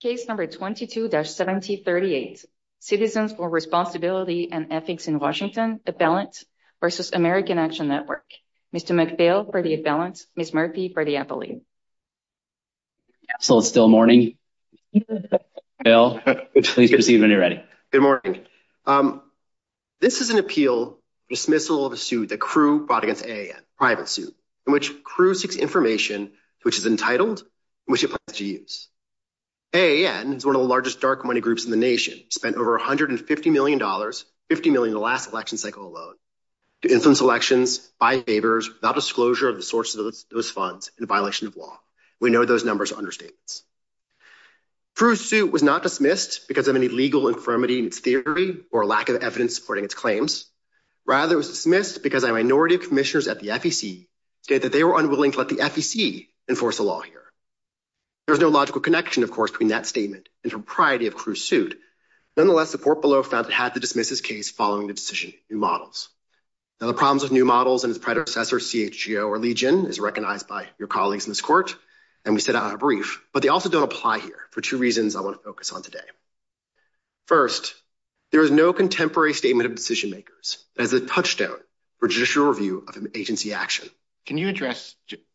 Case number 22-1738, Citizens for Responsibility and Ethics in Washington, the Balance v. American Action Network. Mr. McPhail for the balance, Ms. Murphy for the appellate. So it's still morning. Good morning. This is an appeal, dismissal of a suit that CREW fought against AIS, a private suit, in which CREW seeks information which is entitled, which it plans to use. AAN is one of the largest dark money groups in the nation, spent over $150 million, $50 million in the last election cycle alone, to influence elections, buy favors, without disclosure of the sources of those funds, in violation of law. We know those numbers are understatements. CREW's suit was not dismissed because of any legal infirmity in its theory or lack of evidence supporting its claims. Rather, it was dismissed because a minority of There's no logical connection, of course, between that statement and the propriety of CREW's suit. Nonetheless, the court below found it has to dismiss this case following the decision of New Models. Now, the problems with New Models and its predecessor, CHGO or Legion, is recognized by your colleagues in this court, and we set out on a brief, but they also don't apply here for two reasons I want to focus on today. First, there is no contemporary statement of decision makers that has a touchstone for judicial review of an agency action. Can you address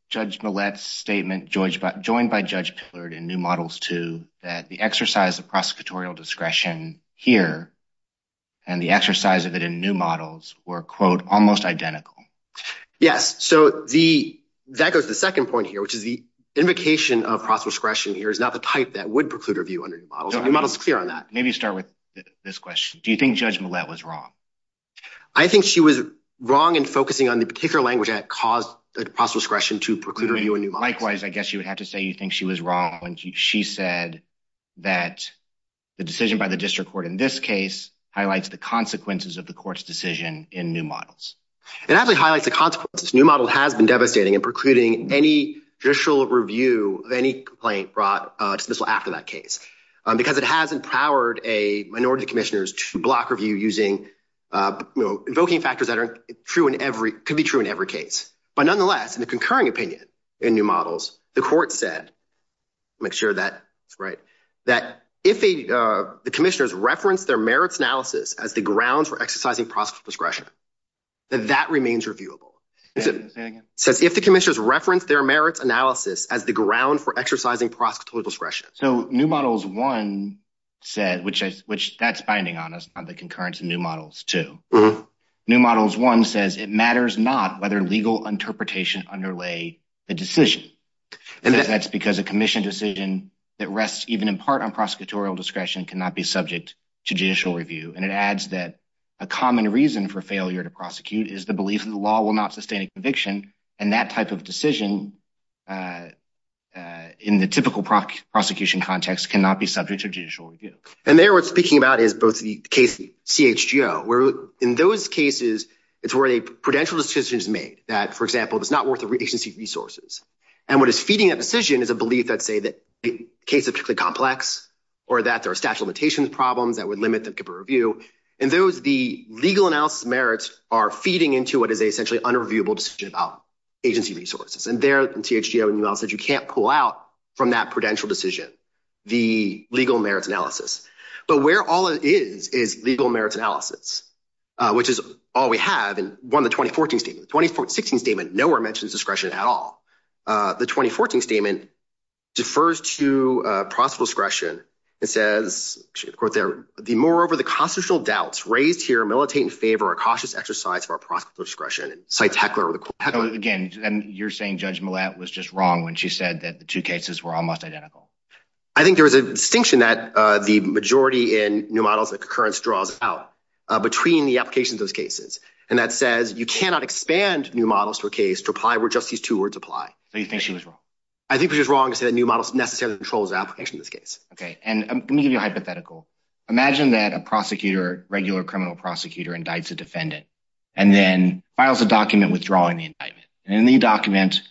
Judge Millett's statement, joined by Judge Pillard in New Models 2, that the exercise of prosecutorial discretion here and the exercise of it in New Models were, quote, almost identical? Yes. So, that goes to the second point here, which is the invocation of prosecutorial discretion here is not the type that would preclude review under New Models. New Models is clear on that. Maybe start with this question. Do you think Judge Millett was wrong? I think she was wrong in focusing on the particular language that caused prosecutorial discretion to preclude review in New Models. Likewise, I guess you would have to say you think she was wrong when she said that the decision by the district court in this case highlights the consequences of the court's decision in New Models. It actually highlights the consequences. New Models has been devastating in precluding any judicial review of any complaint brought to dismissal after that case, because it has empowered minority commissioners to block review using, you know, invoking factors that are true in every, could be true in every case. But nonetheless, in the concurring opinion in New Models, the court said, make sure that's right, that if the commissioners referenced their merits analysis as the grounds for exercising prosecutorial discretion, then that remains reviewable. So, if the commissioners referenced their merits analysis as the ground for exercising prosecutorial discretion. So, New Models 1 said, that's binding on us, on the concurrence in New Models 2. New Models 1 says it matters not whether legal interpretation underlay a decision. And that's because a commission decision that rests even in part on prosecutorial discretion cannot be subject to judicial review. And it adds that a common reason for failure to prosecute is the belief that the law will not sustain a conviction, and that type of decision in the typical prosecution context cannot be subject to judicial review. And there, what we're speaking about is both the case, CHGO, where in those cases, it's where a prudential decision is made that, for example, it's not worth the agency resources. And what is feeding that decision is a belief that, say, the case is particularly complex, or that there are statute of limitations problems that would limit the review. And those, the legal analysis merits are feeding into what is essentially an unreviewable decision about agency resources. And there, you can't pull out from that prudential decision, the legal merits analysis. But where all it is, is legal merits analysis, which is all we have in one of the 2014 statements. The 2016 statement nowhere mentions discretion at all. The 2014 statement defers to prosecutorial discretion. It says, quote there, the moreover, the constitutional doubts raised here militate in favor of a cautious exercise of our prosecutorial discretion. Cite Teckler. So again, you're saying Judge Millett was just wrong when she said that the two cases were almost identical. I think there was a distinction that the majority in new models of concurrence draws out between the applications of those cases. And that says you cannot expand new models for a case to apply where just these two words apply. So you think she was wrong? I think she was wrong because the new models necessarily controls the application of this case. Okay. And I'm going to give you a hypothetical. Imagine that a prosecutor, regular criminal prosecutor, indicts a defendant and then files a document withdrawing the indictment. And in the document,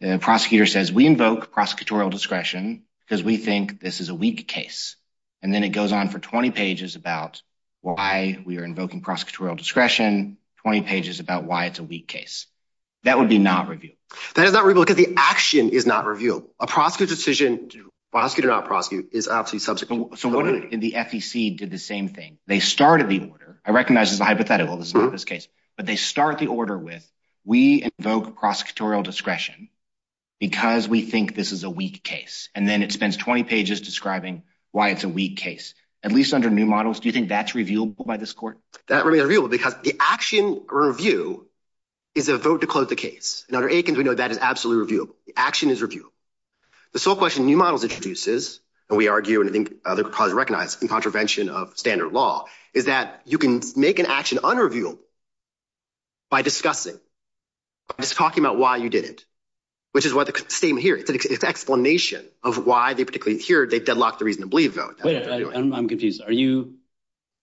the prosecutor says, we invoke prosecutorial discretion because we think this is a weak case. And then it goes on for 20 pages about why we are invoking prosecutorial discretion, 20 pages about why it's a weak case. That would be not review. That is not review because the action is not review. A prosecutor decision to prosecute or not prosecute is absolutely So what if the FEC did the same thing? They started the order. I recognize it's a hypothetical. This is not this case. But they start the order with, we invoke prosecutorial discretion because we think this is a weak case. And then it spends 20 pages describing why it's a weak case. At least under new models, do you think that's reviewable by this court? That would be reviewable because the action review is a vote to close the case. And under Aikens, we know that is absolutely reviewable. The action is reviewable. The sole question new models introduces, but we argue and I think other parties recognize in contravention of standard law, is that you can make an action unreviewable by discussing, just talking about why you didn't, which is what the statement here. It's explanation of why they particularly here, they've deadlocked the reason to believe vote. I'm confused. Are you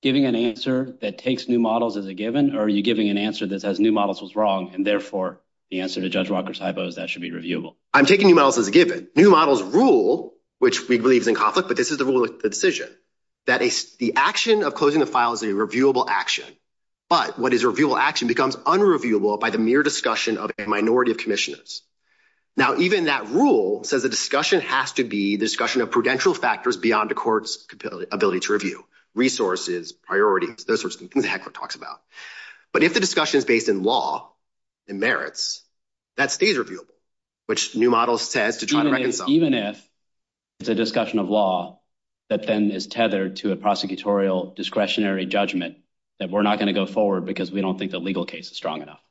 giving an answer that takes new models as a given? Or are you giving an answer that says new models was wrong and therefore the answer to Judge Walker's hypo is that should be reviewable? I'm taking new models as a given. New models rule, which we believe is in conflict, but this is the rule of the decision. That the action of closing the file is a reviewable action. But what is a reviewable action becomes unreviewable by the mere discussion of a minority of commissioners. Now, even that rule says the discussion has to be the discussion of prudential factors beyond the court's ability to review, resources, priorities, those sorts of things that Hancock talks about. But if the discussion is in law and merits, that stays reviewable, which new models said to try to reconcile. Even if it's a discussion of law that then is tethered to a prosecutorial discretionary judgment that we're not going to go forward because we don't think the legal case is strong enough.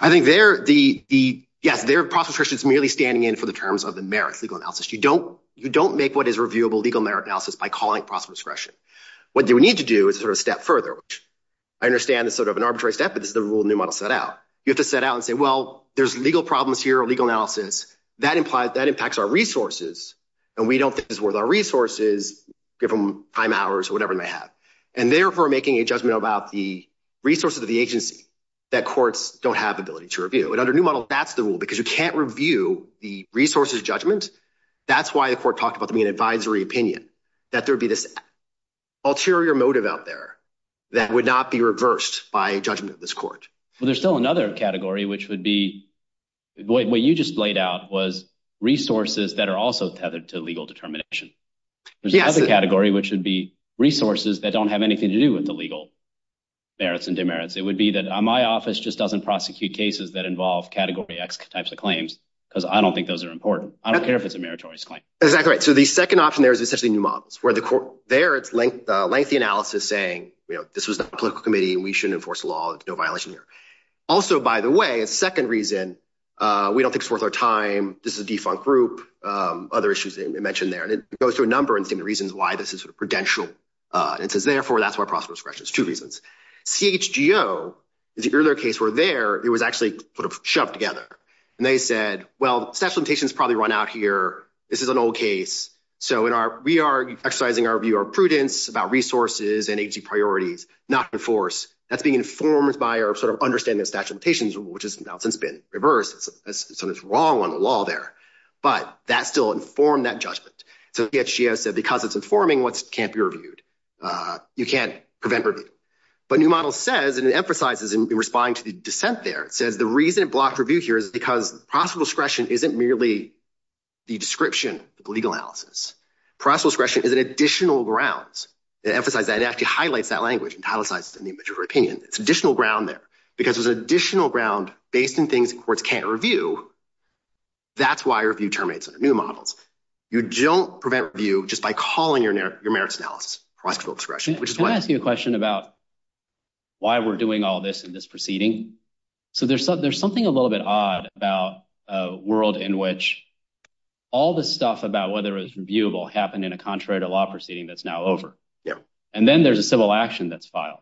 I think they're the, yes, they're process Christians merely standing in for the terms of the merit legal analysis. You don't, you don't make what is reviewable legal merit analysis by calling process discretion. What do we need to do is sort of step further, which I understand is sort of an arbitrary step, but it's the rule new model set out. You have to set out and say, well, there's legal problems here, legal analysis that implies that impacts our resources. And we don't think it's worth our resources, give them time hours or whatever they have. And therefore making a judgment about the resources of the agency that courts don't have ability to review. And under new model, that's the rule because you can't review the resources judgment. That's why the court talked about the mean advisory opinion, that there'd be this ulterior motive out there that would not be reversed by judgment of this court. Well, there's still another category, which would be what you just laid out was resources that are also tethered to legal determination. There's another category, which would be resources that don't have anything to do with the legal merits and demerits. It would be that my office just doesn't prosecute cases that involve category X types of claims. Cause I don't think those are important. I don't care if it's a meritorious claim. Is that correct? So the second option there is essentially new analysis saying, you know, this was a political committee and we shouldn't enforce the law. It's no violation here. Also, by the way, a second reason, we don't think it's worth our time. This is a defunct group. Other issues mentioned there. And it goes through a number of different reasons why this is prudential. And it says, therefore that's why process was fresh. It's two reasons. CHGO, the earlier case were there, it was actually sort of shoved together. And they said, well, sexual limitations probably run out here. This is an old case. So in our, we are exercising our prudence about resources and agency priorities, not the force that's being informed by our sort of understanding of statute of limitations, which has now since been reversed. So it's wrong on the law there, but that still informed that judgment. So yet she has said, because it's informing what can't be reviewed, you can't prevent. But new model says, and it emphasizes in responding to the dissent there. It says the reason block review here is because possible discretion isn't merely the description, the legal analysis process question. Is it additional grounds that emphasize that it actually highlights that language and politicize the image of her opinion. It's additional ground there because there's additional ground based in things where it's can't review. That's why review terminates with new models. You don't prevent view just by calling your merits analysis. Can I ask you a question about why we're doing all this in this proceeding? So there's something a little bit odd about a world in which all this stuff about whether it was reviewable happened in a contrary to law proceeding that's now over. And then there's a civil action that's filed.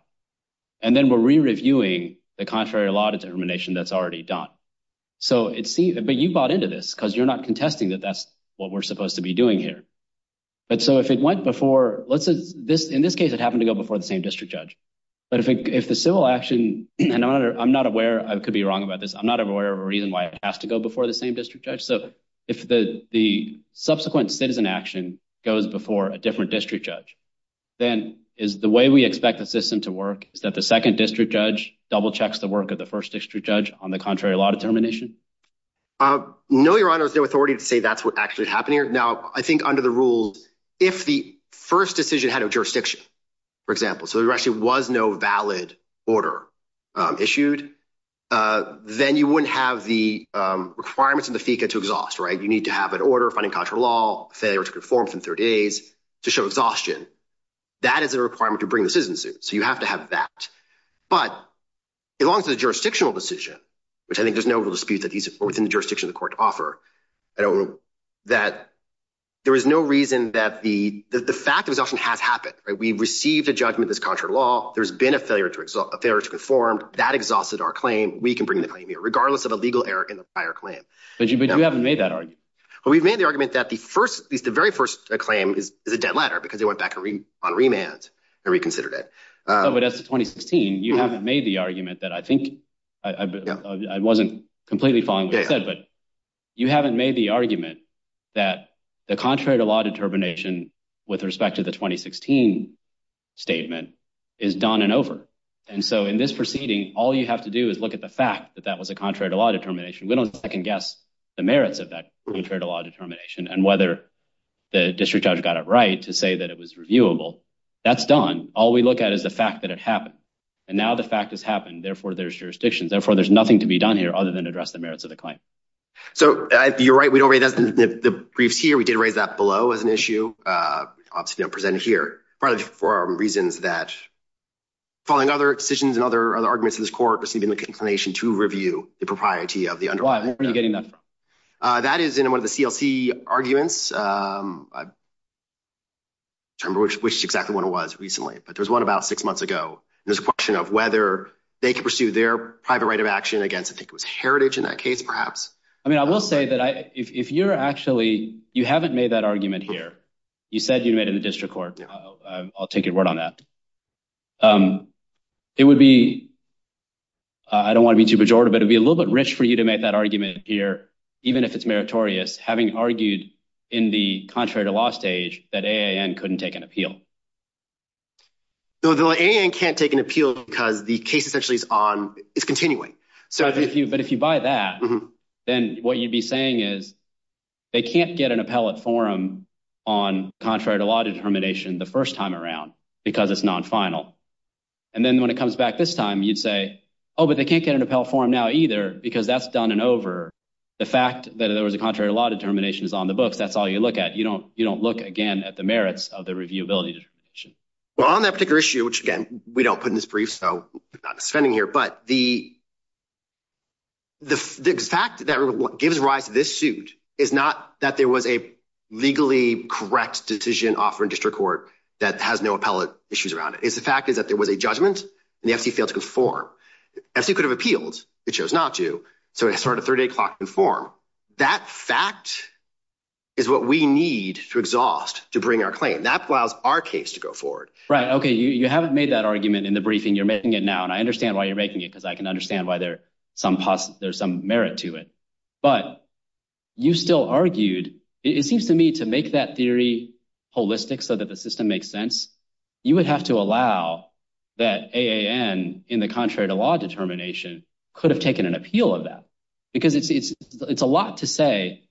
And then we're re-reviewing the contrary law determination that's already done. So it's seen, but you bought into this because you're not contesting that that's what we're supposed to be doing here. But so if it went before, let's say this, in this case, it happened to go before the same district judge. But if the civil action, and I'm not aware, I could be wrong about this. I'm not aware of a reason why it has to go before the same district judge. So if the subsequent citizen action goes before a different district judge, then is the way we expect the system to work, is that the second district judge double checks the work of the first district judge on the contrary law determination? No, Your Honor, there's no authority to say that's what actually happened here. Now, I think under the rules, if the first decision had a jurisdiction, for example, so there actually was no valid order issued, then you wouldn't have the requirements of the FECA to exhaust, right? You need to have an order finding contrary law federal reform from third days to show exhaustion. That is the requirement to bring the citizens in. So you have to have that. But as long as the jurisdictional decision, which I think there's no real dispute that these are within the jurisdiction of the court to offer, that there is no reason that the fact has happened. We've received a judgment that's contrary to law. There's been a failure to conform. That exhausted our claim. We can bring the claim here, regardless of a legal error in the prior claim. But you haven't made that argument? We've made the argument that the first, the very first claim is a dead ladder because they went back on remand and reconsidered it. Oh, but that's 2016. You haven't made the argument that I think, I wasn't completely following what you said, but you haven't made the argument that the contrary to law determination with respect to the 2016 statement is done and over. And so in this proceeding, all you have to do is look at the fact that that was a contrary to law determination. We don't second guess the merits of that contrary to law determination and whether the district judge got it right to say that it was reviewable. That's done. All we look at is the fact that it happened. And now the fact has happened. Therefore, there's jurisdiction. Therefore, there's nothing to be done here other than address the merits of the claim. So you're right. We don't read that in the brief here. We obviously don't present it here for reasons that following other decisions and other other arguments in this court, receiving the inclination to review the propriety of the underwriting. Why? When were you getting them? That is in one of the CLC arguments. I don't remember which exactly one it was recently, but there was one about six months ago. There's a question of whether they can pursue their private right of action against antiquitous heritage in that case, perhaps. I mean, I will say that if you're actually, you haven't made that argument here, you said you made a district court. I'll take your word on that. It would be, I don't want to be too pejorative, but it'd be a little bit rich for you to make that argument here, even if it's meritorious, having argued in the contrary to law stage that AAN couldn't take an appeal. So AAN can't take an appeal because the case essentially is continuing. But if you buy that, then what you'd be saying is they can't get an appellate forum on contrary to law determination the first time around because it's non-final. And then when it comes back this time, you'd say, oh, but they can't get an appellate forum now either, because that's done and over. The fact that there was a contrary to law determination is on the books, that's all you look at. You don't look again at the merits of the reviewability determination. Well, on that particular issue, which again, we don't put in this brief, so we're not spending here, but the fact that what gives rise to this suit is not that there was a legally correct decision offered in district court that has no appellate issues around it. It's the fact that there was a judgment and the FC failed to conform. FC could have appealed. It chose not to. So it started at 3 o'clock to conform. That fact is what we need to exhaust to bring our claim. That allows our case to go forward. Okay. You haven't made that argument in the briefing. You're making it now. And I understand why you're making it because I can understand why there's some merit to it. But you still argued, it seems to me to make that theory holistic so that the system makes sense, you would have to allow that AAN in the contrary to law determination could have taken an appeal of that. Because it's a lot to say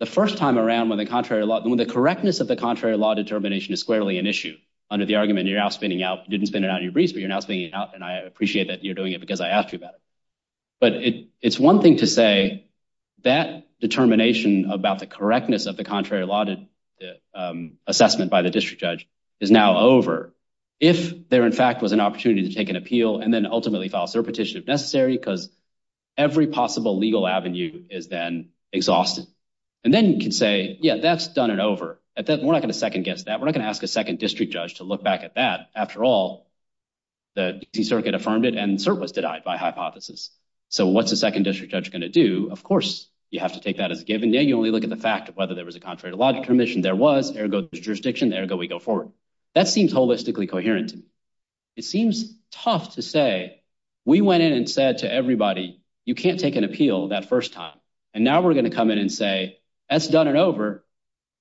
the first time around when the contrary law, when the correctness of the contrary law determination is squarely an issue, under the argument you're now spinning out, didn't spin it out of your briefs, but you're now spinning it out. And I appreciate that you're doing it because I asked you about it. But it's one thing to say that determination about the correctness of the contrary law assessment by the district judge is now over. If there in fact was an opportunity to take an appeal and then ultimately file a petition if necessary, because every possible legal avenue is then exhausted. And then you can say, yeah, that's done and over. We're not going to second guess that. We're not going to ask a second district judge to look back at that. After all, the circuit affirmed it and cert was denied by hypothesis. So what's the second district judge going to do? Of course, you have to take that as a given. You only look at the fact of whether there was a contrary to logic permission there was, ergo the jurisdiction, ergo we go forward. That seems holistically coherent. It seems tough to say we went in and said to everybody, you can't take an appeal that first time. And now we're going to come in and say, that's done and over.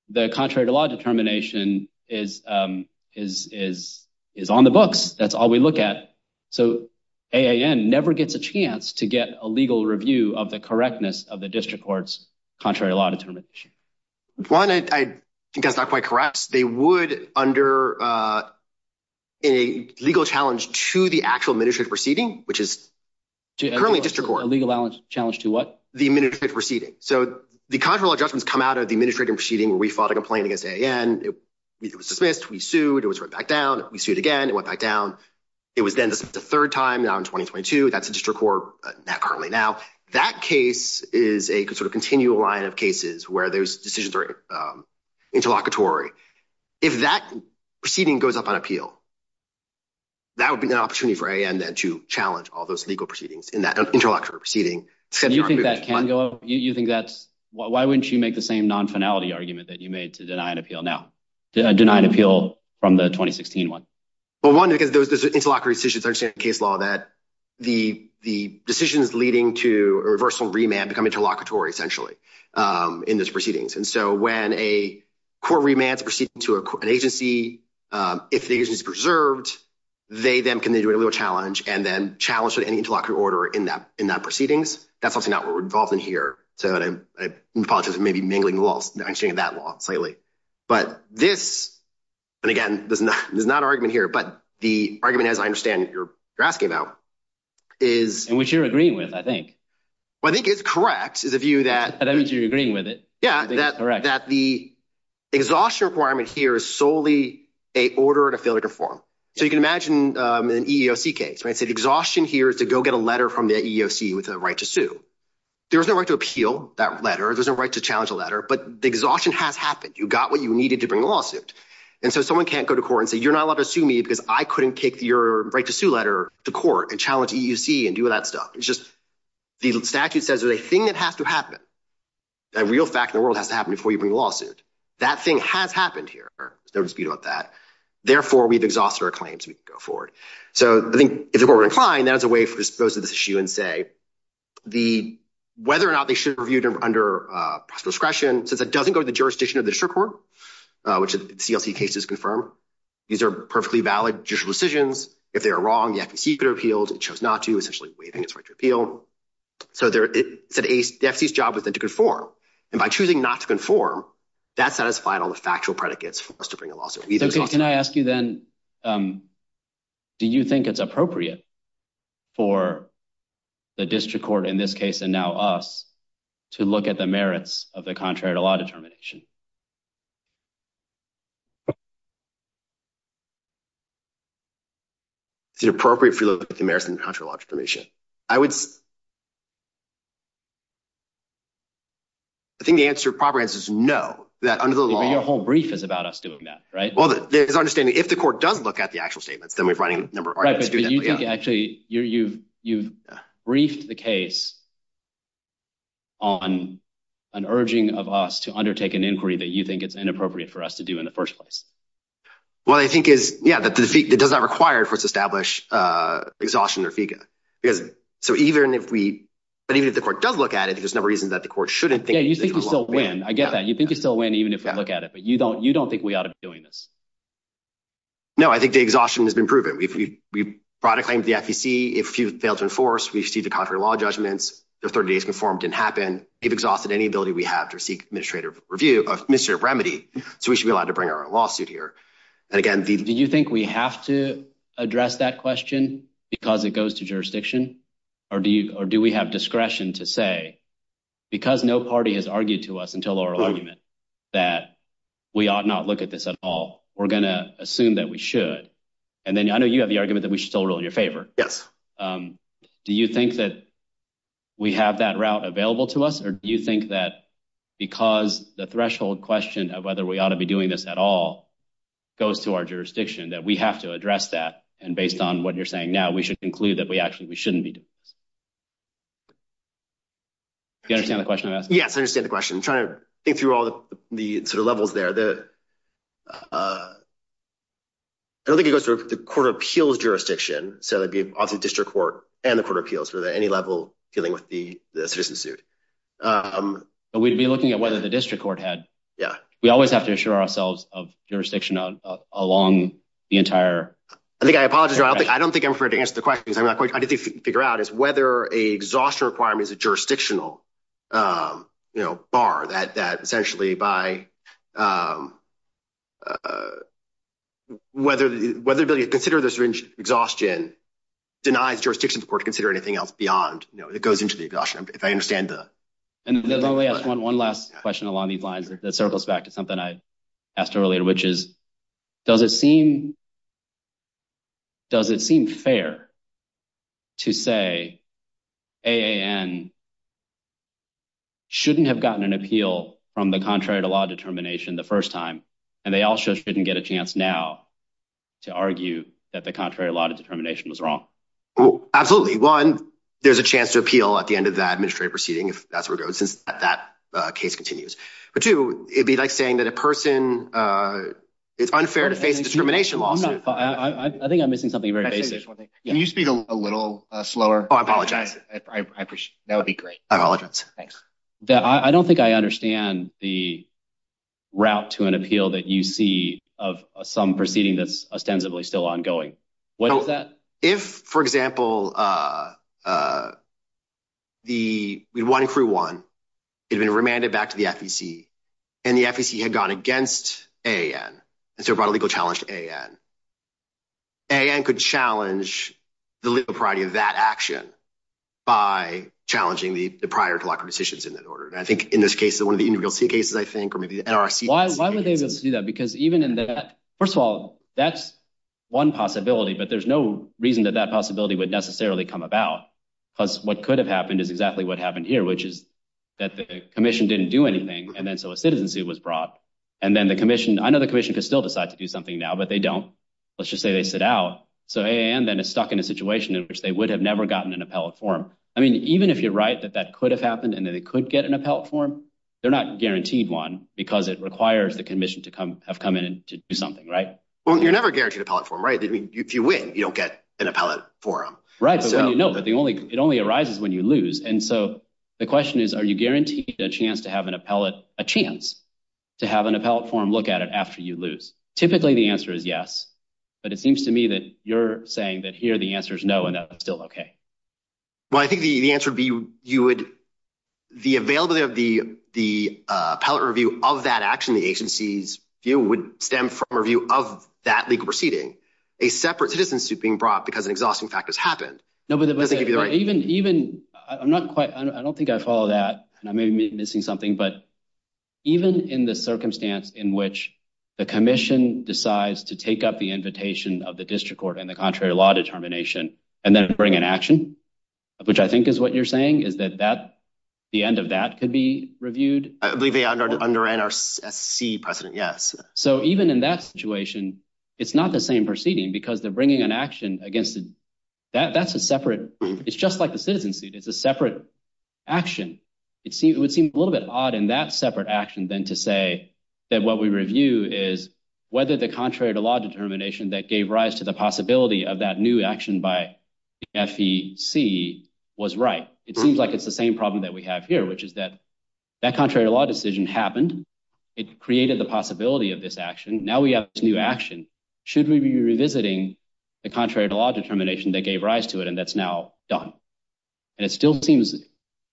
The contrary to law determination is on the books. That's all we look at. So AAN never gets a chance to get a legal review of the correctness of the district court's contrary law determination. One, I think that's not quite correct. They would under a legal challenge to the actual minute fit proceeding, which is currently district court. A legal challenge to what? The minute fit proceeding. So the contractual adjustments come out of the minute fit proceeding. We filed a complaint against AAN. It was dismissed. We sued. It was written back down. We sued again. It went back down. It was then this is the third time now in 2022. That's a district court currently now. That case is a sort of continual line of cases where there's decisions are interlocutory. If that proceeding goes up on appeal, that would be an opportunity for AAN then to challenge all those legal proceedings in that interlocutory proceeding you think that can go up? You think that's why wouldn't you make the same non-finality argument that you made to deny an appeal now? Deny an appeal from the 2016 one. Well, one, because those interlocutory decisions understand case law that the decision is leading to a reversal remand become interlocutory essentially in this proceedings. And so when a court remands a proceeding to an agency, if the agency is preserved, they then can then do a legal challenge and then challenge any interlocutory order in that proceedings. That's something that we're involved in here. So I apologize for maybe mingling the laws. I've seen that law lately. But this, and again, there's not an argument here, but the argument, as I understand it, you're asking about is... In which you're agreeing with, I think. Well, I think it's correct is the view that... In which you're agreeing with it. Yeah, that the exhaustion requirement here is solely a order to fail to perform. So you can an EEOC case, right? The exhaustion here is to go get a letter from the EEOC with a right to sue. There's a right to appeal that letter. There's a right to challenge a letter, but the exhaustion has happened. You got what you needed to bring a lawsuit. And so someone can't go to court and say, you're not allowed to sue me because I couldn't take your right to sue letter to court and challenge EEOC and do that stuff. It's just the statute says there's a thing that has to happen. A real fact in the world has to happen before you bring a lawsuit. That thing has happened here. There's no dispute about that. Therefore, we've exhausted our claims. We can go forward. So I think if we're inclined, that's a way for us to go through this issue and say whether or not they should have reviewed them under discretion. So that doesn't go to the jurisdiction of the district court, which is CLT cases confirm. These are perfectly valid judicial decisions. If they are wrong, you have to keep their appeals. If they chose not to, essentially waiving this right to appeal. So it's the EEOC's job with them to conform. And by choosing not to conform, that satisfies all the factual predicates for us to bring a lawsuit. Do you think it's appropriate for the district court in this case, and now us, to look at the merits of the contrary to law determination? Is it appropriate for the merits of the contrary to law determination? I would... I think the answer probably is no. Your whole brief is about us doing that, right? If the court does look at the actual statement, then we're running... Actually, you've briefed the case on an urging of us to undertake an inquiry that you think it's inappropriate for us to do in the first place. Well, I think it does not require for us to establish exhaustion or fegancy. But even if the court does look at it, there's a number of reasons that the court shouldn't think... Yeah, you think we still win. I get that. You think we still win even if we look at it, but you don't think we ought to be doing this. No, I think the exhaustion has been proven. We brought a claim to the FEC. If you fail to enforce, we should see the contrary to law judgments. The third day's conformed didn't happen. You've exhausted any ability we have to seek administrative review, administrative remedy. So we should be allowed to bring our own lawsuit here. And again, the... Do you think we have to address that question because it goes to jurisdiction? Or do we have discretion to say, because no party has argued to us until our argument that we ought not look at this at all, we're going to assume that we should. And then I know you have the argument that we should still rule in your favor. Do you think that we have that route available to us? Or do you think that because the threshold question of whether we ought to be doing this at all goes to our jurisdiction, that we have to address that? And based on what you're saying now, we should conclude that we actually, we shouldn't be. Do you understand the question I'm asking? Yes, I understand the question. I'm trying to think through all the levels there. I don't think it goes through the court of appeals jurisdiction. So that'd be often district court and the court of appeals, or at any level dealing with the citizen suit. We'd be looking at whether the district court had... Yeah. We always have to assure ourselves of jurisdiction along the entire... I think I apologize. I don't think I'm able to answer the question. I'm not quite sure how to figure out is whether a exhaustion requirement is a jurisdictional bar that essentially by... Whether they consider this an exhaustion denies jurisdiction for considering anything else beyond it goes into the exhaustion, if I understand that. And let me ask one last question along these lines that circles back to something I mentioned. Does it seem fair to say AAN shouldn't have gotten an appeal from the contrary to law determination the first time, and they also shouldn't get a chance now to argue that the contrary to law determination was wrong? Absolutely. One, there's a chance to appeal at the end of the administrative proceeding if that's where it goes, if that case continues. But two, it'd be like saying that a person... It's unfair to face discrimination law. No, I think I'm missing something very basic. Can you speak a little slower? Oh, I apologize. That would be great. I apologize. Thanks. I don't think I understand the route to an appeal that you see of some proceeding that's ostensibly still ongoing. What is that? If, for example, the one in crew one had been remanded back to the FEC, and the FEC had gone against AAN, and so brought a legal challenge to AAN, AAN could challenge the legal priority of that action by challenging the prior to lockup decisions in that order. And I think in this case, one of the individual cases, I think, or maybe the NRC- Why would they be able to see that? Because even in that... First of all, that's one possibility, but there's no reason that that possibility would necessarily come about. Because what could have happened is exactly what happened here, which is that the commission didn't do anything, and then so a citizenship was brought. And then another commission could still decide to do something now, but they don't. Let's just say they sit out. So AAN then is stuck in a situation in which they would have never gotten an appellate form. I mean, even if you're right that that could have happened, and that it could get an appellate form, they're not guaranteed one because it requires the NRC to have come in to do something, right? Well, you're never guaranteed an appellate form, right? I mean, if you win, you don't get an appellate form. Right. No, but it only arises when you lose. And so the question is, are you guaranteed a chance to have an appellate, a chance to have an appellate form look at it after you lose? Typically, the answer is yes, but it seems to me that you're saying that here the answer is no, and that's still okay. Well, I think the answer would be, the availability of the appellate review of that action in the agency's view would stem from a review of that legal proceeding, a separate citizenship being brought because an exhausting fact has happened. I don't think I follow that, and I may be missing something, but even in the circumstance in which the commission decides to take up the invitation of the district court and the contrary law determination, and then bring an action, which I think is what you're saying, that the end of that could be reviewed? I believe they underwrite our FEC precedent, yes. So even in that situation, it's not the same proceeding because they're bringing an action against, that's a separate, it's just like the citizens, it's a separate action. It would seem a little bit odd in that separate action than to say that what we review is whether the contrary to law determination that gave rise to the possibility of that new action by FEC was right. It seems like it's the same problem that we have here, which is that that contrary to law decision happened. It created the possibility of this action. Now we have this new action. Should we be revisiting the contrary to law determination that gave rise to it and that's now done? And it still seems,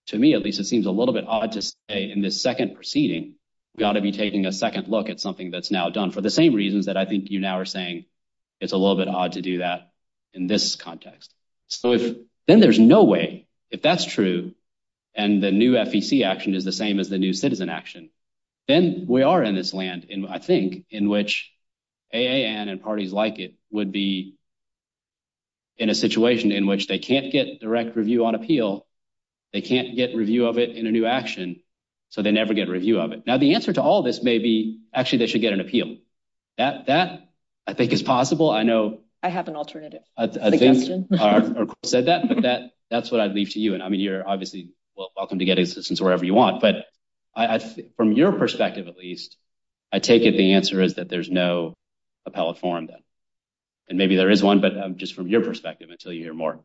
to me at least, it seems a little bit odd to say in this second proceeding, we ought to be taking a second look at something that's now done for the same reasons that I think you now are saying it's a little bit odd to do that in this context. So then there's no way, if that's true and the new FEC action is the same as the new citizen action, then we are in this land, I think, in which AAN and parties like it would be in a situation in which they can't get direct review on appeal, they can't get review of it in a new action, so they never get a review of it. Now the answer to all this may be actually they should get an appeal. That I think is possible. I know- I have an alternative. I think that's what I'd leave to you. And I mean, you're obviously welcome to get assistance wherever you want, but from your perspective, at least, I take it the answer is that there's no appellate form then. And maybe there is one, but just from your perspective until you hear more.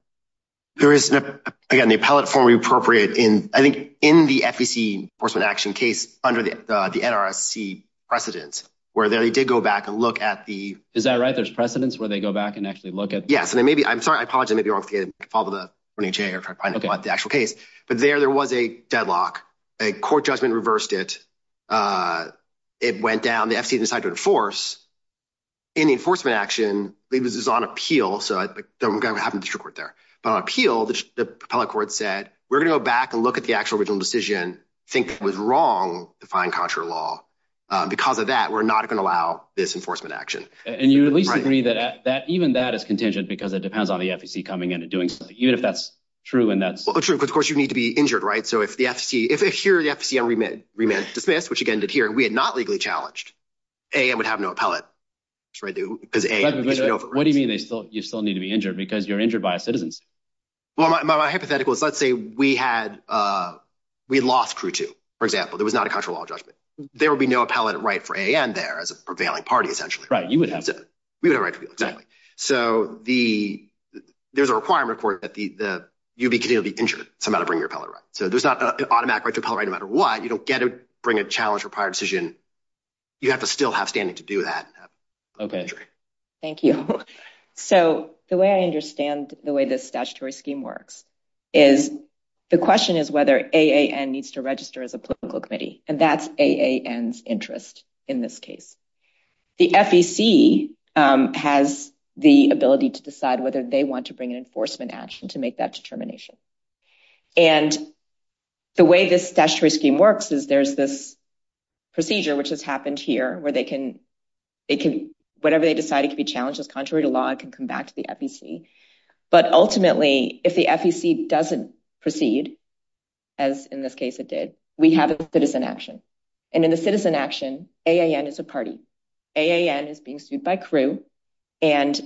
There is, again, the appellate form we appropriate in, I think, in the FEC enforcement action case under the NRC precedent, where they did go back and look at the- I'm sorry. I apologize. I may be wrong. I'll follow the- But there, there was a deadlock. A court judgment reversed it. It went down. The FEC decided to enforce. In the enforcement action, it was on appeal, so I don't have the district court there. But on appeal, the appellate court said, we're going to go back and look at the actual original decision, think it was wrong to find contrary law. Because of that, we're not going to allow this enforcement action. And you at least agree that even that is contingent because it depends on the FEC coming in and doing something, even if that's true and that's- Well, true, because of course, you need to be injured, right? So if the FTC, if here, the FTC remanded to dismiss, which again, is here, and we had not legally challenged, AAN would have no appellate. What do you mean you still need to be injured? Because you're injured by a citizen. Well, my hypothetical is, let's say we had lost Crew 2, for example. There was not a contrary law judgment. There would be no appellate right for AAN there as a prevailing party, essentially. Right. You would have to- We would have a right to appeal, exactly. So there's a requirement for it that you'd be continuing to be injured. It's not about bringing your appellate right. So there's not an automatic right to appellate right no matter what. You don't get to bring a challenge or prior decision. You have to still have standing to do that. Okay. Thank you. So the way I understand the way this statutory scheme works is, the question is whether AAN needs to register as a political committee, and that's AAN's interest in this case. The FEC has the ability to decide whether they want to bring an enforcement action to make that determination. And the way this statutory scheme works is there's this procedure, which has happened here, where they can, whatever they decided to be challenged as contrary to law, it can come back to the FEC. But ultimately, if the FEC doesn't proceed, as in this case it did, we have a citizen action. And in the citizen action, AAN is a party. AAN is being sued by CRU. And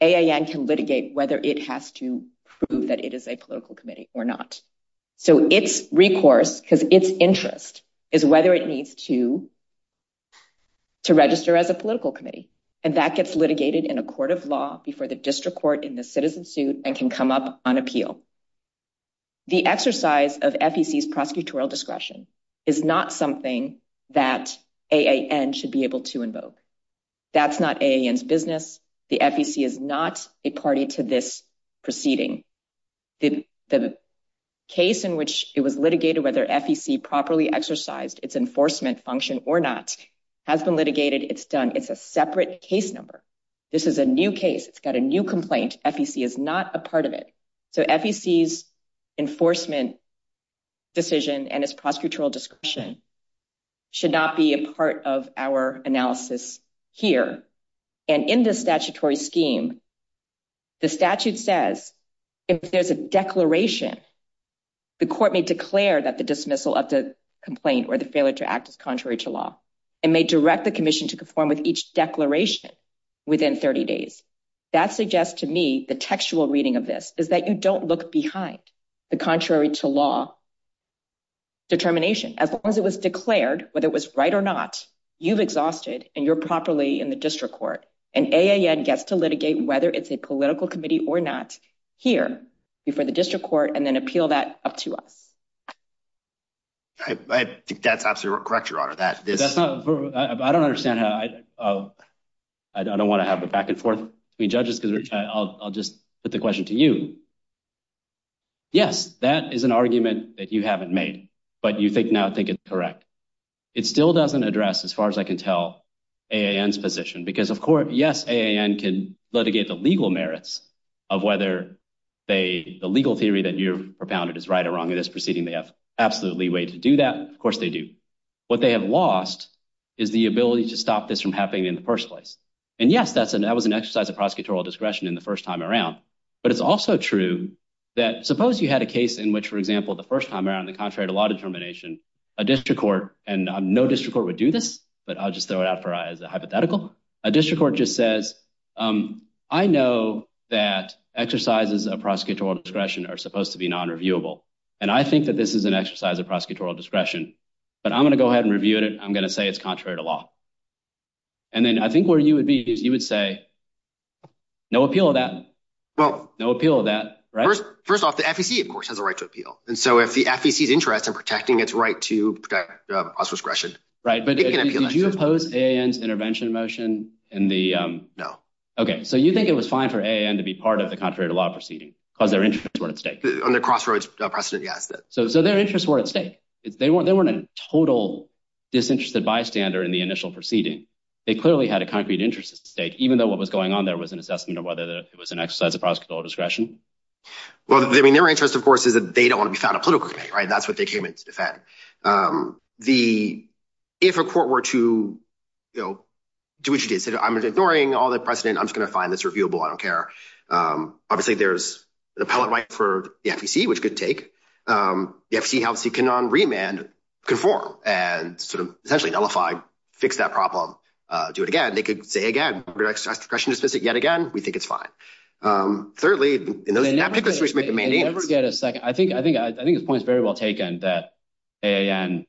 AAN can litigate whether it has to prove that it is a political committee or not. So it's recourse, because it's interest, is whether it needs to register as a political committee. And that gets litigated in a court of law before the district court in the citizen suit and can come up on appeal. The exercise of FEC's prosecutorial discretion is not something that AAN should be able to invoke. That's not AAN's business. The FEC is not a party to this proceeding. The case in which it was litigated, whether FEC properly exercised its enforcement function or not, has been litigated. It's done. It's a separate case number. This is a new case. It's got a new complaint. FEC is not a part of it. So FEC's enforcement decision and its prosecutorial discretion should not be a part of our analysis here. And in this statutory scheme, the statute says if there's a declaration, the court may declare that the dismissal of the complaint or the failure to act is contrary to law and may direct the commission to perform each declaration within 30 days. That suggests to me the textual reading of this is that you don't look behind the contrary to law determination. As long as it was declared, whether it was right or not, you've exhausted and you're properly in the district court. And AAN gets to litigate whether it's a political committee or not here before the district court and then appeal that up to us. All right. I think that's absolutely correct, Your Honor. I don't understand. I don't want to have the back and forth between judges. I'll just put the question to you. Yes, that is an argument that you haven't made, but you now think it's correct. It still doesn't address, as far as I can tell, AAN's position because, of course, yes, AAN can litigate the legal merits of whether the legal theory that you've propounded is right or wrong in this way. Of course, they do. What they have lost is the ability to stop this from happening in the first place. And yes, that was an exercise of prosecutorial discretion in the first time around, but it's also true that suppose you had a case in which, for example, the first time around, the contrary to law determination, a district court, and no district court would do this, but I'll just throw it out as a hypothetical. A district court just says, I know that exercises of prosecutorial discretion are supposed to be non-reviewable, and I think that this is an exercise of prosecutorial discretion, but I'm going to go ahead and review it. I'm going to say it's contrary to law. And then I think where you would be is you would say, no appeal of that. No appeal of that. First off, the FEC, of course, has a right to appeal. And so, if the FEC's interest in protecting its right to prosecutorial discretion- Right, but did you oppose AAN's intervention motion in the- Because their interests were at stake. On the crossroads precedent, yes. So their interests were at stake. They weren't a total disinterested bystander in the initial proceeding. They clearly had a concrete interest at stake, even though what was going on there was an assessment of whether it was an exercise of prosecutorial discretion. Well, I mean, their interest, of course, is that they don't want to be found a political candidate, right? That's what they came in to defend. If a court were to, you know, do what you did. Say, I'm ignoring all the precedent. I'm just going to find this reviewable. I don't care. Obviously, there's an appellate right for the FEC, which could take. The FEC has to condemn, remand, conform, and sort of essentially nullify, fix that problem, do it again. They could say, again, we're going to exercise discretion to dismiss it yet again. We think it's fine. Thirdly- And then you have to get a second. I think the point is very well taken that AAN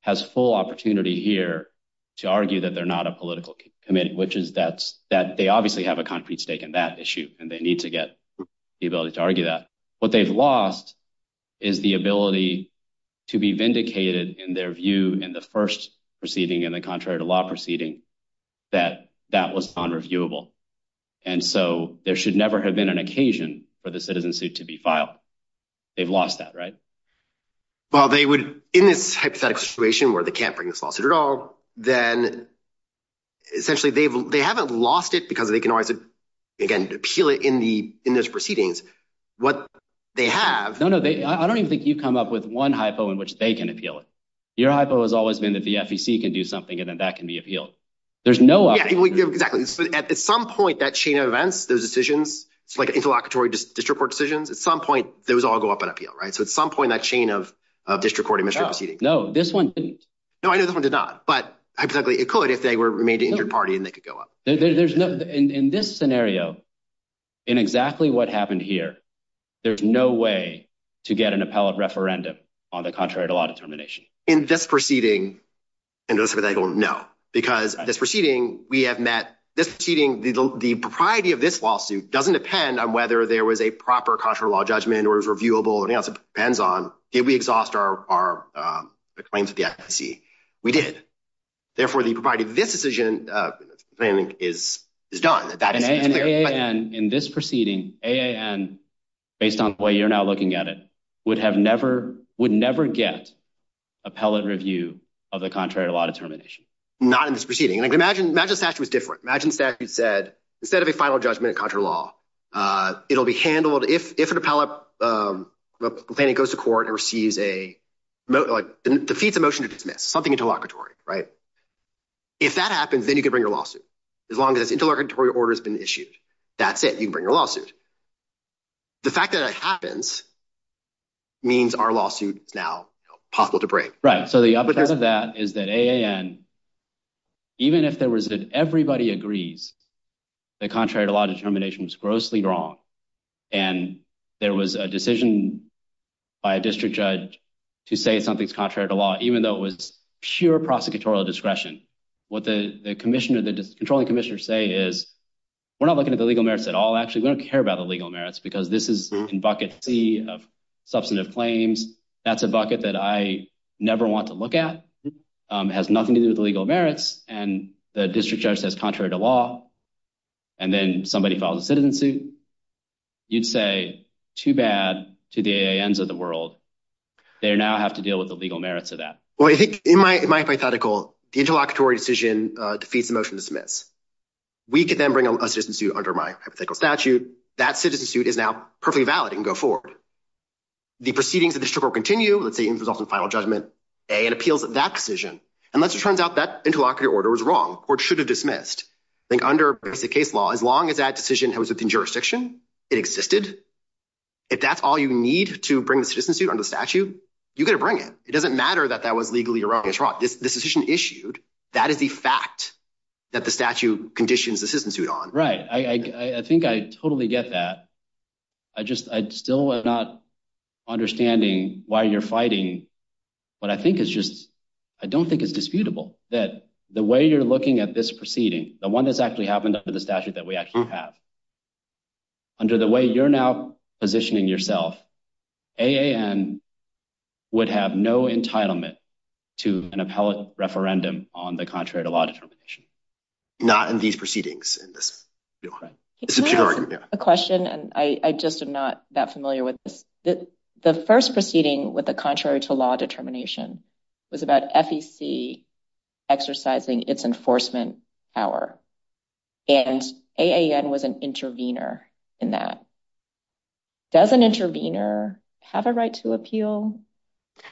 has full opportunity here to argue that they're not a political candidate, which is that they obviously have a concrete stake in that issue, and they need to get the ability to argue that. What they've lost is the ability to be vindicated in their view in the first proceeding, in the contrary to law proceeding, that that was unreviewable. And so there should never have been an occasion for the citizen suit to be filed. They've lost that, right? Well, they would, in this hypothetical situation where they can't bring this lawsuit at all, then essentially they haven't lost it because they can always, again, appeal it in those proceedings. What they have- No, no. I don't even think you've come up with one hypo in which they can appeal it. Your hypo has always been that the FEC can do something and then that can be appealed. There's no- Yeah, exactly. At some point, that chain of events, those decisions, it's like interlocutory district court decisions, at some point, those all go up on appeal, right? So at some point, that chain of district court initial proceedings- No, this one didn't. No, I know this one did not, but it could if they remained in your party and they could go up. In this scenario, in exactly what happened here, there's no way to get an appellate referendum on the contrary to law determination. In this proceeding, and this is what I don't know, because this proceeding, we have met, this proceeding, the propriety of this lawsuit doesn't depend on whether there was a proper contrary to law judgment or it was reviewable or anything else. It depends on did we exhaust our claims to the FEC? We did. Therefore, the propriety of this decision, I think, is done. In this proceeding, AAN, based on the way you're now looking at it, would never get appellate review of the contrary to law determination. Not in this proceeding. Imagine if that was different. Imagine if that said, instead of a final judgment of contrary to law, it'll be handled, if an appellate goes to court and receives a motion to dismiss, something interlocutory. If that happens, then you can bring your lawsuit. As long as interlocutory order has been issued, that's it, you can bring your lawsuit. The fact that that happens means our lawsuit is now possible to bring. Right. The uppercut of that is that AAN, even if everybody agrees the contrary to law determination is grossly wrong, and there was a decision by a district judge to say something's contrary to law, even though it was sheer prosecutorial discretion, what the controlling commissioners say is, we're not looking at the legal merits at all. Actually, we don't care about the legal merits because this is a broken bucket of substantive claims. That's a bucket that I never want to look at. It has nothing to do with legal merits. The district judge says contrary to law, and then somebody files a citizen suit, you'd say too bad to the AANs of the world. They now have to deal with the legal merits of that. Well, I think in my hypothetical, the interlocutory decision defeats the motion to dismiss. We can then bring a citizen suit under my hypothetical statute. That citizen suit is now perfectly valid and can go forward. The proceedings of the district will continue. Let's say it involves a final judgment. A, it appeals that decision. Unless it turns out that as long as that decision was within jurisdiction, it existed. If that's all you need to bring the citizen suit under the statute, you got to bring it. It doesn't matter that that was legally erroneously trot. This decision issued, that is the fact that the statute conditions the citizen suit on. Right. I think I totally get that. I still am not understanding why you're fighting, but I don't think it's disputable that the way you're looking at this proceeding, the one that's actually happened under the statute that we actually have, under the way you're now positioning yourself, AAN would have no entitlement to an appellate referendum on the contrary to law determination. Not in these proceedings. Can I ask a question? I just am not that familiar with this. The first proceeding with the contrary to law determination was about FEC exercising its enforcement power and AAN was an intervener in that. Does an intervener have a right to appeal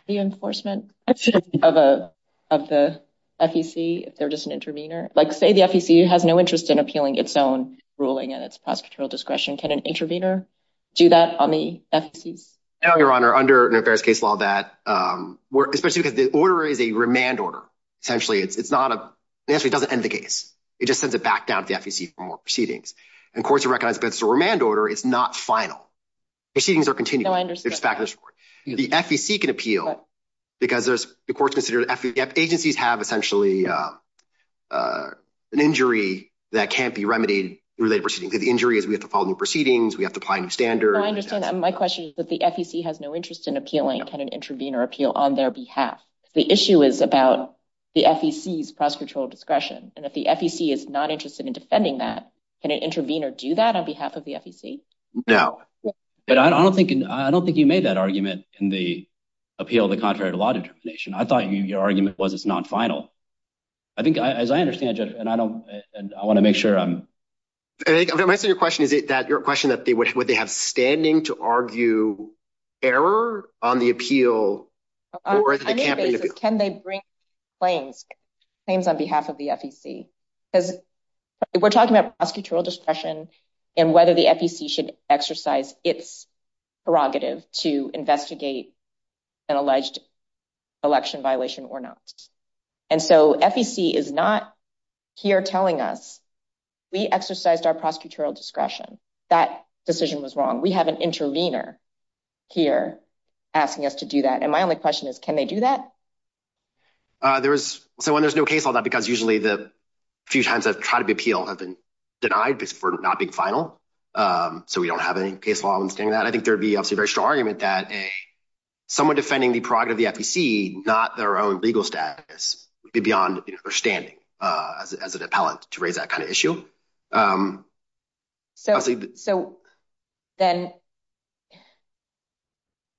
the enforcement of the FEC if they're just an intervener? Like say the FEC has no interest in appealing its own ruling and its prosecutorial discretion. Can an intervener do that on the FEC? No, Your Honor. Under various case law that, especially because the order is a remand order. Essentially it doesn't end the case. It just sends it back down to the FEC for more proceedings. Of course, it recognizes that it's a remand order. It's not final. Proceedings are continual. I understand. The FEC can appeal because the courts consider that agencies have essentially an injury that can't be remedied in related proceedings. The injury is we have to file new proceedings. We have to apply new standards. I understand. My question is that the FEC has no interest in appealing. Can an intervener appeal on their behalf? The issue is about the FEC's prosecutorial discretion. If the FEC is not interested in defending that, can an intervener do that on behalf of the FEC? No. I don't think you made that argument in the appeal of the contrary to law determination. I thought your argument was it's not final. I think as I understand it, and I want to make sure I'm- I'm answering your question. Your question that would they have standing to argue error on the appeal or the campaign appeal? Can they bring claims on behalf of the FEC? Because we're talking about prosecutorial discretion and whether the FEC should exercise its prerogative to investigate an alleged election violation or not. And so FEC is not here telling us, we exercised our prosecutorial discretion. That decision was wrong. We have an intervener here asking us to do that. And my only question is, can they do that? There is- so when there's no case on that because usually the few times that try to be appealed have been denied for not being final. So we don't have any case law on saying that. I think there'd be obviously a very strong argument that someone defending the prerogative of the FEC, not their own legal status, would be beyond understanding as an appellant to raise that kind of issue. So then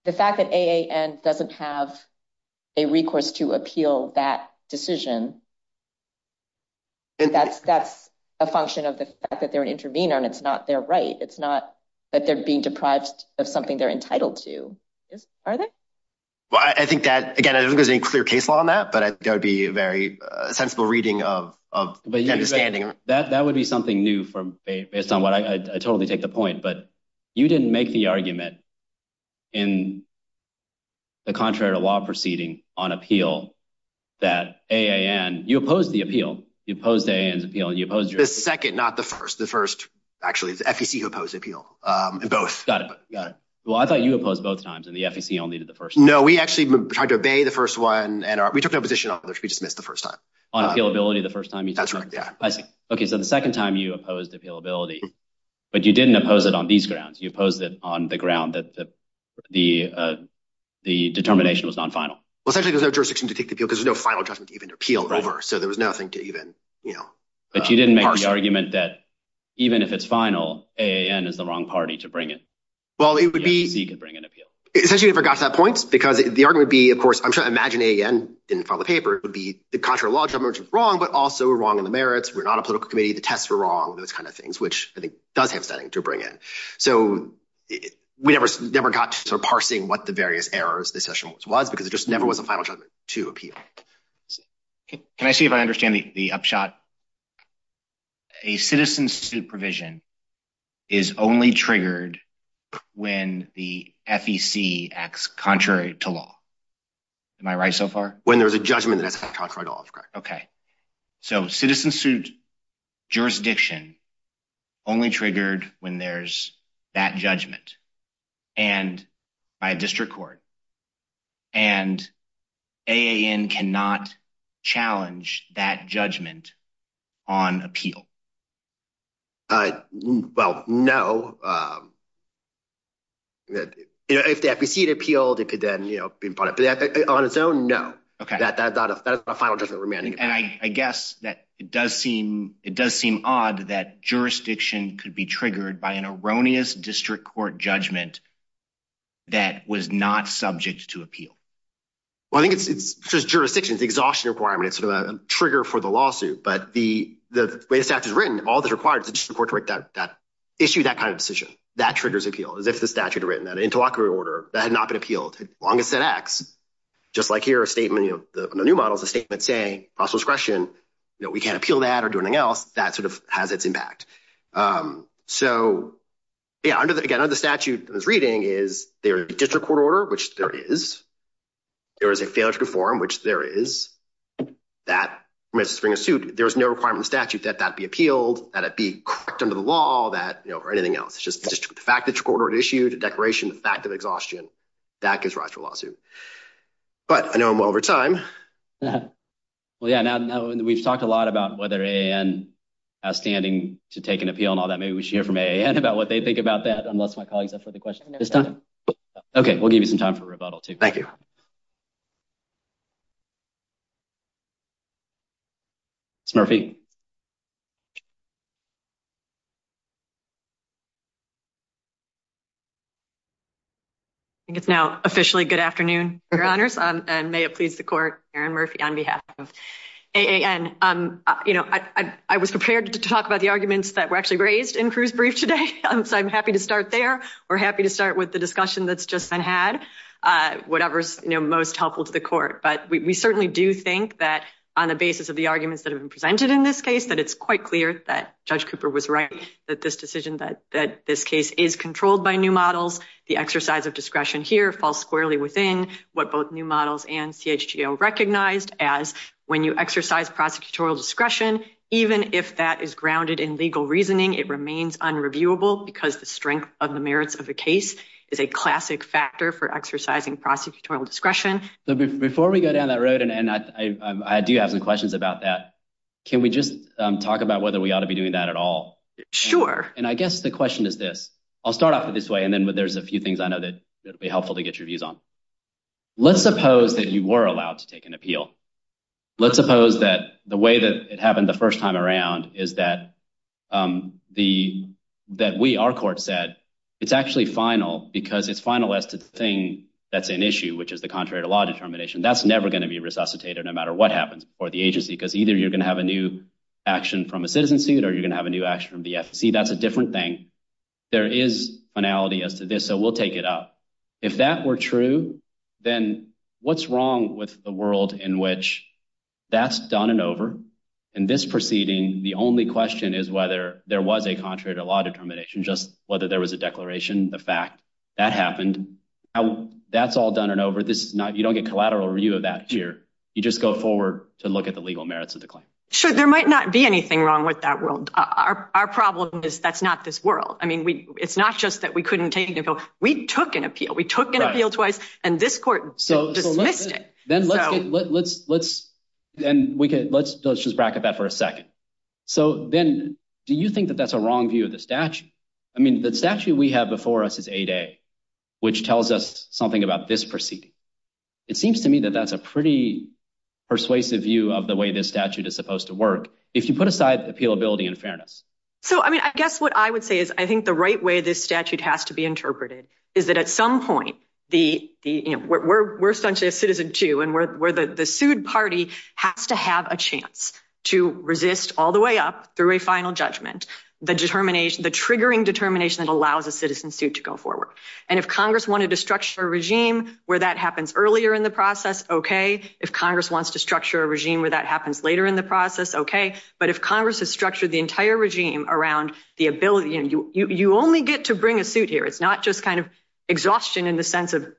the fact that AAN doesn't have a recourse to appeal that decision, that's a function of the fact that they're an intervener and it's not their right. It's not that they're being deprived of something they're entitled to. Are they? Well, I think that, again, I don't think there's any clear case law on that, but I think that would be a very sensible reading of understanding. That would be something new based on what- I totally take the point, but you didn't make the argument in the contrary to law proceeding on appeal that AAN- you opposed the appeal. You opposed AAN's appeal. You opposed- The second, not the first. The first, actually, the FEC opposed appeal in both. Got it. Got it. Well, I thought you opposed both times and the FEC only did the first one. No, we actually tried to obey the first one and we took the opposition off, which we just missed the first time. On appealability the first time you- That's right, yeah. I see. Okay, so the second time you opposed appealability, but you didn't oppose it on these grounds. You opposed it on the ground that the determination was non-final. Well, essentially there's no jurisdiction to take the appeal because there's no final judgment to even appeal over, so there was nothing to even, you know- But you didn't make the argument that even if it's final, AAN is the wrong party to bring in. Well, it would be- So you can bring in appeal. Essentially, we forgot to that point because the argument would be, of course, I'm trying to imagine AAN in the final paper. It would be the contrary to law, which is wrong, but also wrong on the merits. We're not a political committee. The tests were wrong, those kind of things, which I think does have something to bring in. So we never got to parsing what the various errors, because it just never was a final judgment to appeal. Can I see if I understand the upshot? A citizen's supervision is only triggered when the FEC acts contrary to law. Am I right so far? When there's a judgment that acts contrary to law, that's correct. Okay. So citizen's jurisdiction only triggered when there's that judgment, and by a district court, and AAN cannot challenge that judgment on appeal? Well, no. If the FEC had appealed, then on its own, no. That's the final judgment remaining. And I guess that it does seem odd that jurisdiction could be triggered by an erroneous district court judgment that was not subject to appeal. Well, I think it's jurisdiction's exhaustion requirement. It's a trigger for the lawsuit, but the way the statute is written, all that's required is the district court to issue that kind of decision. That triggers appeal. That's the statute written, that interlocutor order that had not been appealed. As long as it acts, just like here, a statement of the new model, a statement saying cross-discretion, we can't appeal that or do anything else, that sort of has its impact. So, yeah, again, under the statute that I was reading is there is a district court order, which there is. There is a failure to conform, which there is. That permits us to bring a suit. There is no requirement in the statute that that be appealed, that it be corrected under the law, that, you know, or anything else. It's just the fact that the court had issued a declaration of the fact of exhaustion. That gives rise to a lawsuit. But I know I'm well over time. Yeah. Well, yeah. Now, we've talked a lot about whether AAN has standing to take an appeal and all that. Maybe we should hear from AAN about what they think about that, unless my colleagues have further questions. Okay. We'll give you some time for rebuttal. Thank you. Snurfie? I think it's now officially good afternoon, Your Honors, and may it please the court, Erin Murphy, on behalf of AAN. You know, I was prepared to talk about the arguments that were actually raised in Cruz Brief today, so I'm happy to start there. We're happy to start with the discussion that's just been had, whatever is most helpful to the court. But we certainly do think that on the basis of the arguments that have been presented in this case, that it's quite clear that Judge Cooper was right, that this decision, that this case is controlled by new models. The exercise of discretion here falls squarely within what both new models and CHGO recognized as when you exercise prosecutorial discretion, even if that is grounded in legal reasoning, it remains unreviewable because the strength of the merits of the case is a classic factor for exercising prosecutorial discretion. So before we go down that road, and I do have some questions about that, can we just talk about whether we ought to be doing that at all? Sure. And I guess the question is this. I'll start off this way and then there's a few things I know that will be helpful to get your views on. Let's suppose that you were allowed to take an appeal. Let's suppose that the way that it happened the first time around is that the, that we, our court said, it's actually final because it's final as to the thing that's an issue, which is the contrary to law determination. That's never going to be resuscitated no matter what happens for the agency, because either you're going to have a new action from a citizen suit or you're going to have a new action from the FCC. That's a different thing. There is finality as to this, so we'll take it up. If that were true, then what's wrong with a world in which that's done and over, and this proceeding, the only question is whether there was a contrary to law determination, just whether there was a declaration, the fact that happened, how that's all done and over. This is not, you don't get collateral review of that here. You just go forward to look at the legal merits of the claim. Sure. There might not be anything wrong with that world. Our problem is that's not this world. I mean, we, it's not just that we couldn't take it and go, we took an appeal. We took an appeal twice and this court dismissed it. Then let's just bracket that for a second. So then do you think that that's a wrong view of the statute? I mean, the statute we have before us is 8A, which tells us something about this proceeding. It seems to me that that's a pretty persuasive view of the way this statute is supposed to work. If you put aside the feelability and fairness. So, I mean, I guess what I would say is I think the right way this statute has to be interpreted is that at some point the, the, you know, we're, we're essentially a citizen too. And we're, we're the, the sued party has to have a chance to resist all the way up through a final judgment, the determination, the triggering determination that allows a citizen suit to go forward. And if Congress wanted to structure a regime where that happens earlier in the process, okay. If Congress wants to structure a regime where that happens later in the process, okay. But if Congress has structured the entire regime around the ability and you, you only get to bring a suit here. It's not just kind of exhaustion in the sense of,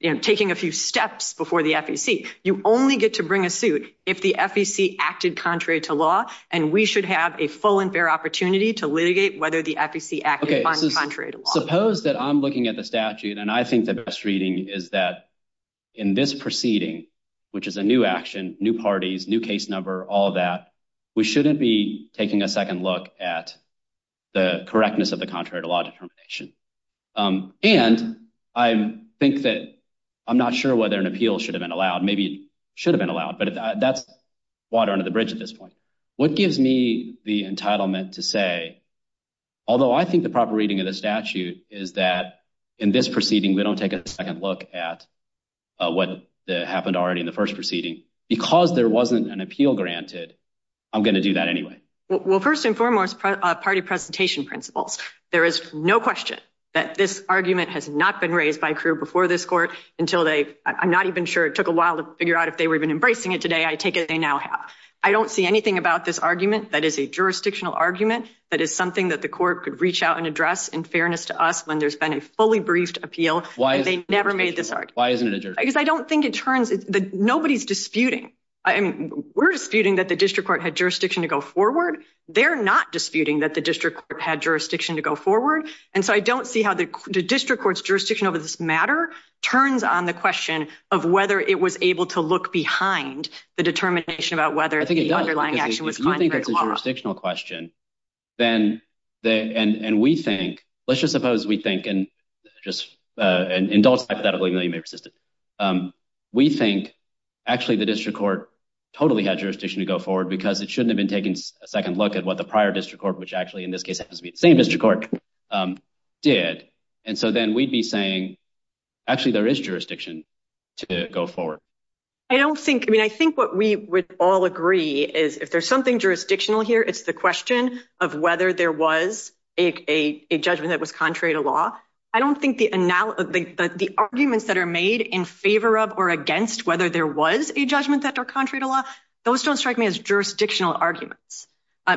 you know, taking a few steps before the FEC. You only get to bring a suit if the FEC acted contrary to law and we should have a full and fair opportunity to litigate whether the FEC acted contrary to law. Suppose that I'm looking at the statute and I think the best reading is that in this proceeding, which is a new action, new parties, new case number, all of that, we shouldn't be taking a second look at the correctness of the contrary to law determination. And I think that I'm not sure whether an appeal should have been allowed. Maybe it should have been allowed, but that's water under the bridge at this point. What gives me the entitlement to say, although I think the proper reading of the statute is that in this proceeding, they don't take a second look at what happened already in the first proceeding because there wasn't an appeal granted. I'm going to do that anyway. Well, first and foremost, party presentation principles. There is no question that this argument has not been raised by career before this court until they, I'm not even sure it took a while to figure out if they would have been embracing it today. I take it they now have. I don't see anything about this argument that is a jurisdictional argument that is something that the court could reach out and address in fairness to us when there's been a fully briefed appeal and they never made this argument. Because I don't think it turns, nobody's disputing. We're disputing that the district court had jurisdiction to go forward. They're not disputing that the district had jurisdiction to go forward. And so I don't see how the district court's jurisdiction over this matter turns on the question of whether it was able to look behind the determination about whether the underlying action was constitutional question. Then the, and, and we think, let's just suppose we think, and just, uh, indulge we think actually the district court totally had jurisdiction to go forward because it shouldn't have been taking a second look at what the prior district court, which actually in this case has to be the same district court. Um, yeah. And so then we'd be saying actually there is jurisdiction to go forward. I don't think, I mean, I think what we would all agree is if there's something jurisdictional here, it's the question of whether there was a, a, a judgment that was contrary to law. I don't think the analysis, the arguments that are made in favor of, or against whether there was a judgment that are contrary to law, those don't strike me as jurisdictional arguments.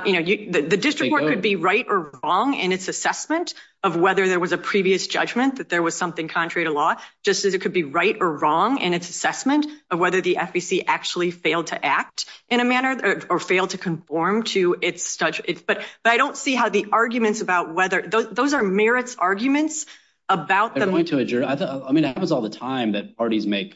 You know, the district court could be right or wrong. And it's assessment of whether there was a previous judgment that there was something contrary to law, just as it could be right or wrong. And it's assessment of whether the FEC actually failed to act in a manner or failed to conform to it's such it's, but, but I don't see how the arguments about whether those are arguments about them. I mean, it happens all the time that parties make.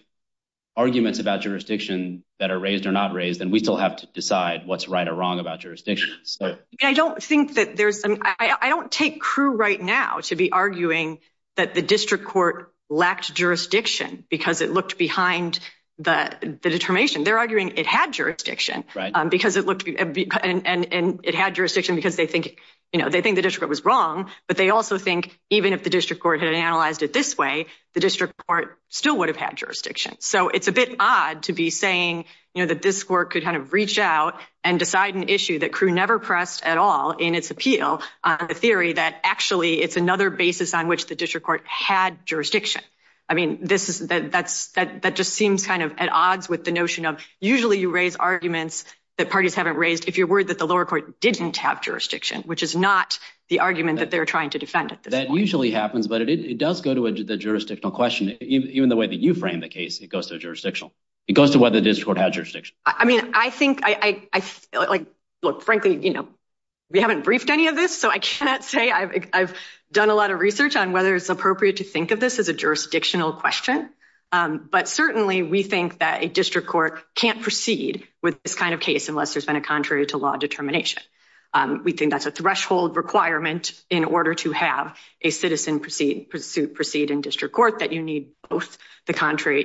Arguments about jurisdiction that are raised or not raised, and we still have to decide what's right or wrong about jurisdictions. I don't think that there's an, I don't take crew right now to be arguing that the district court lacks jurisdiction because it looked behind the determination. They're arguing it had jurisdiction because it looked and it had jurisdiction because they think the district court was wrong, but they also think even if the district court had analyzed it this way, the district court still would have had jurisdiction. So it's a bit odd to be saying, you know, that this court could kind of reach out and decide an issue that crew never pressed at all in its appeal on the theory that actually it's another basis on which the district court had jurisdiction. I mean, that just seems kind of at odds with the notion of usually you raise arguments that parties haven't raised. If you're worried that the lower didn't have jurisdiction, which is not the argument that they're trying to defend. That usually happens, but it does go to the jurisdictional question. Even the way that you frame the case, it goes to jurisdictional. It goes to what the district has jurisdiction. I mean, I think I look, frankly, you know, we haven't briefed any of this, so I cannot say I've done a lot of research on whether it's appropriate to think of this as a jurisdictional question. But certainly we think that a district court can't proceed with this kind of case unless there's been a contrary to law determination. We think that's a threshold requirement in order to have a citizen proceed in district court that you need both the contrary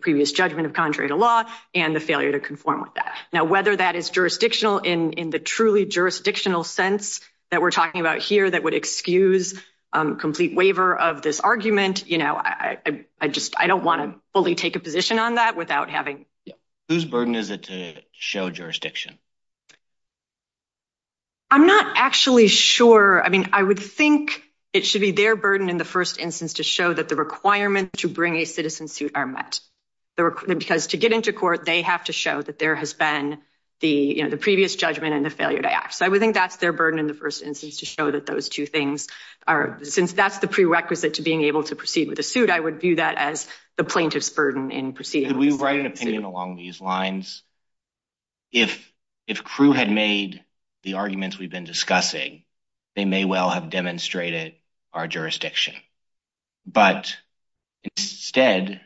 previous judgment of contrary to law and the failure to conform with that. Now, whether that is jurisdictional in the truly jurisdictional sense that we're talking about here that would excuse complete waiver of this argument, you know, I just, I don't want to fully take a position on that without having. Whose burden is it to show jurisdiction? I'm not actually sure. I mean, I would think it should be their burden in the first instance to show that the requirement to bring a citizen suit are met. Because to get into court, they have to show that there has been the previous judgment and the failure to act. So I would think that's their burden in the first instance to show that those two things are, since that's the prerequisite to being able to proceed with a suit, I would view that as the plaintiff's burden in proceeding. Could we write an opinion along these lines? If, if crew had made the arguments we've been discussing, they may well have demonstrated our jurisdiction, but instead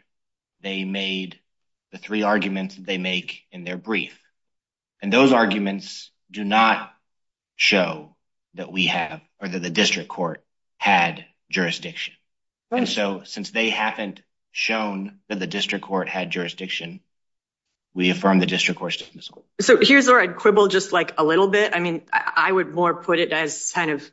they made the three arguments they make in their brief. And those arguments do not show that we have or that the district court had jurisdiction. And so since they haven't shown that the district court had jurisdiction, we affirm the district court. So here's where I'd quibble just like a little bit. I mean, I would more put it as kind of,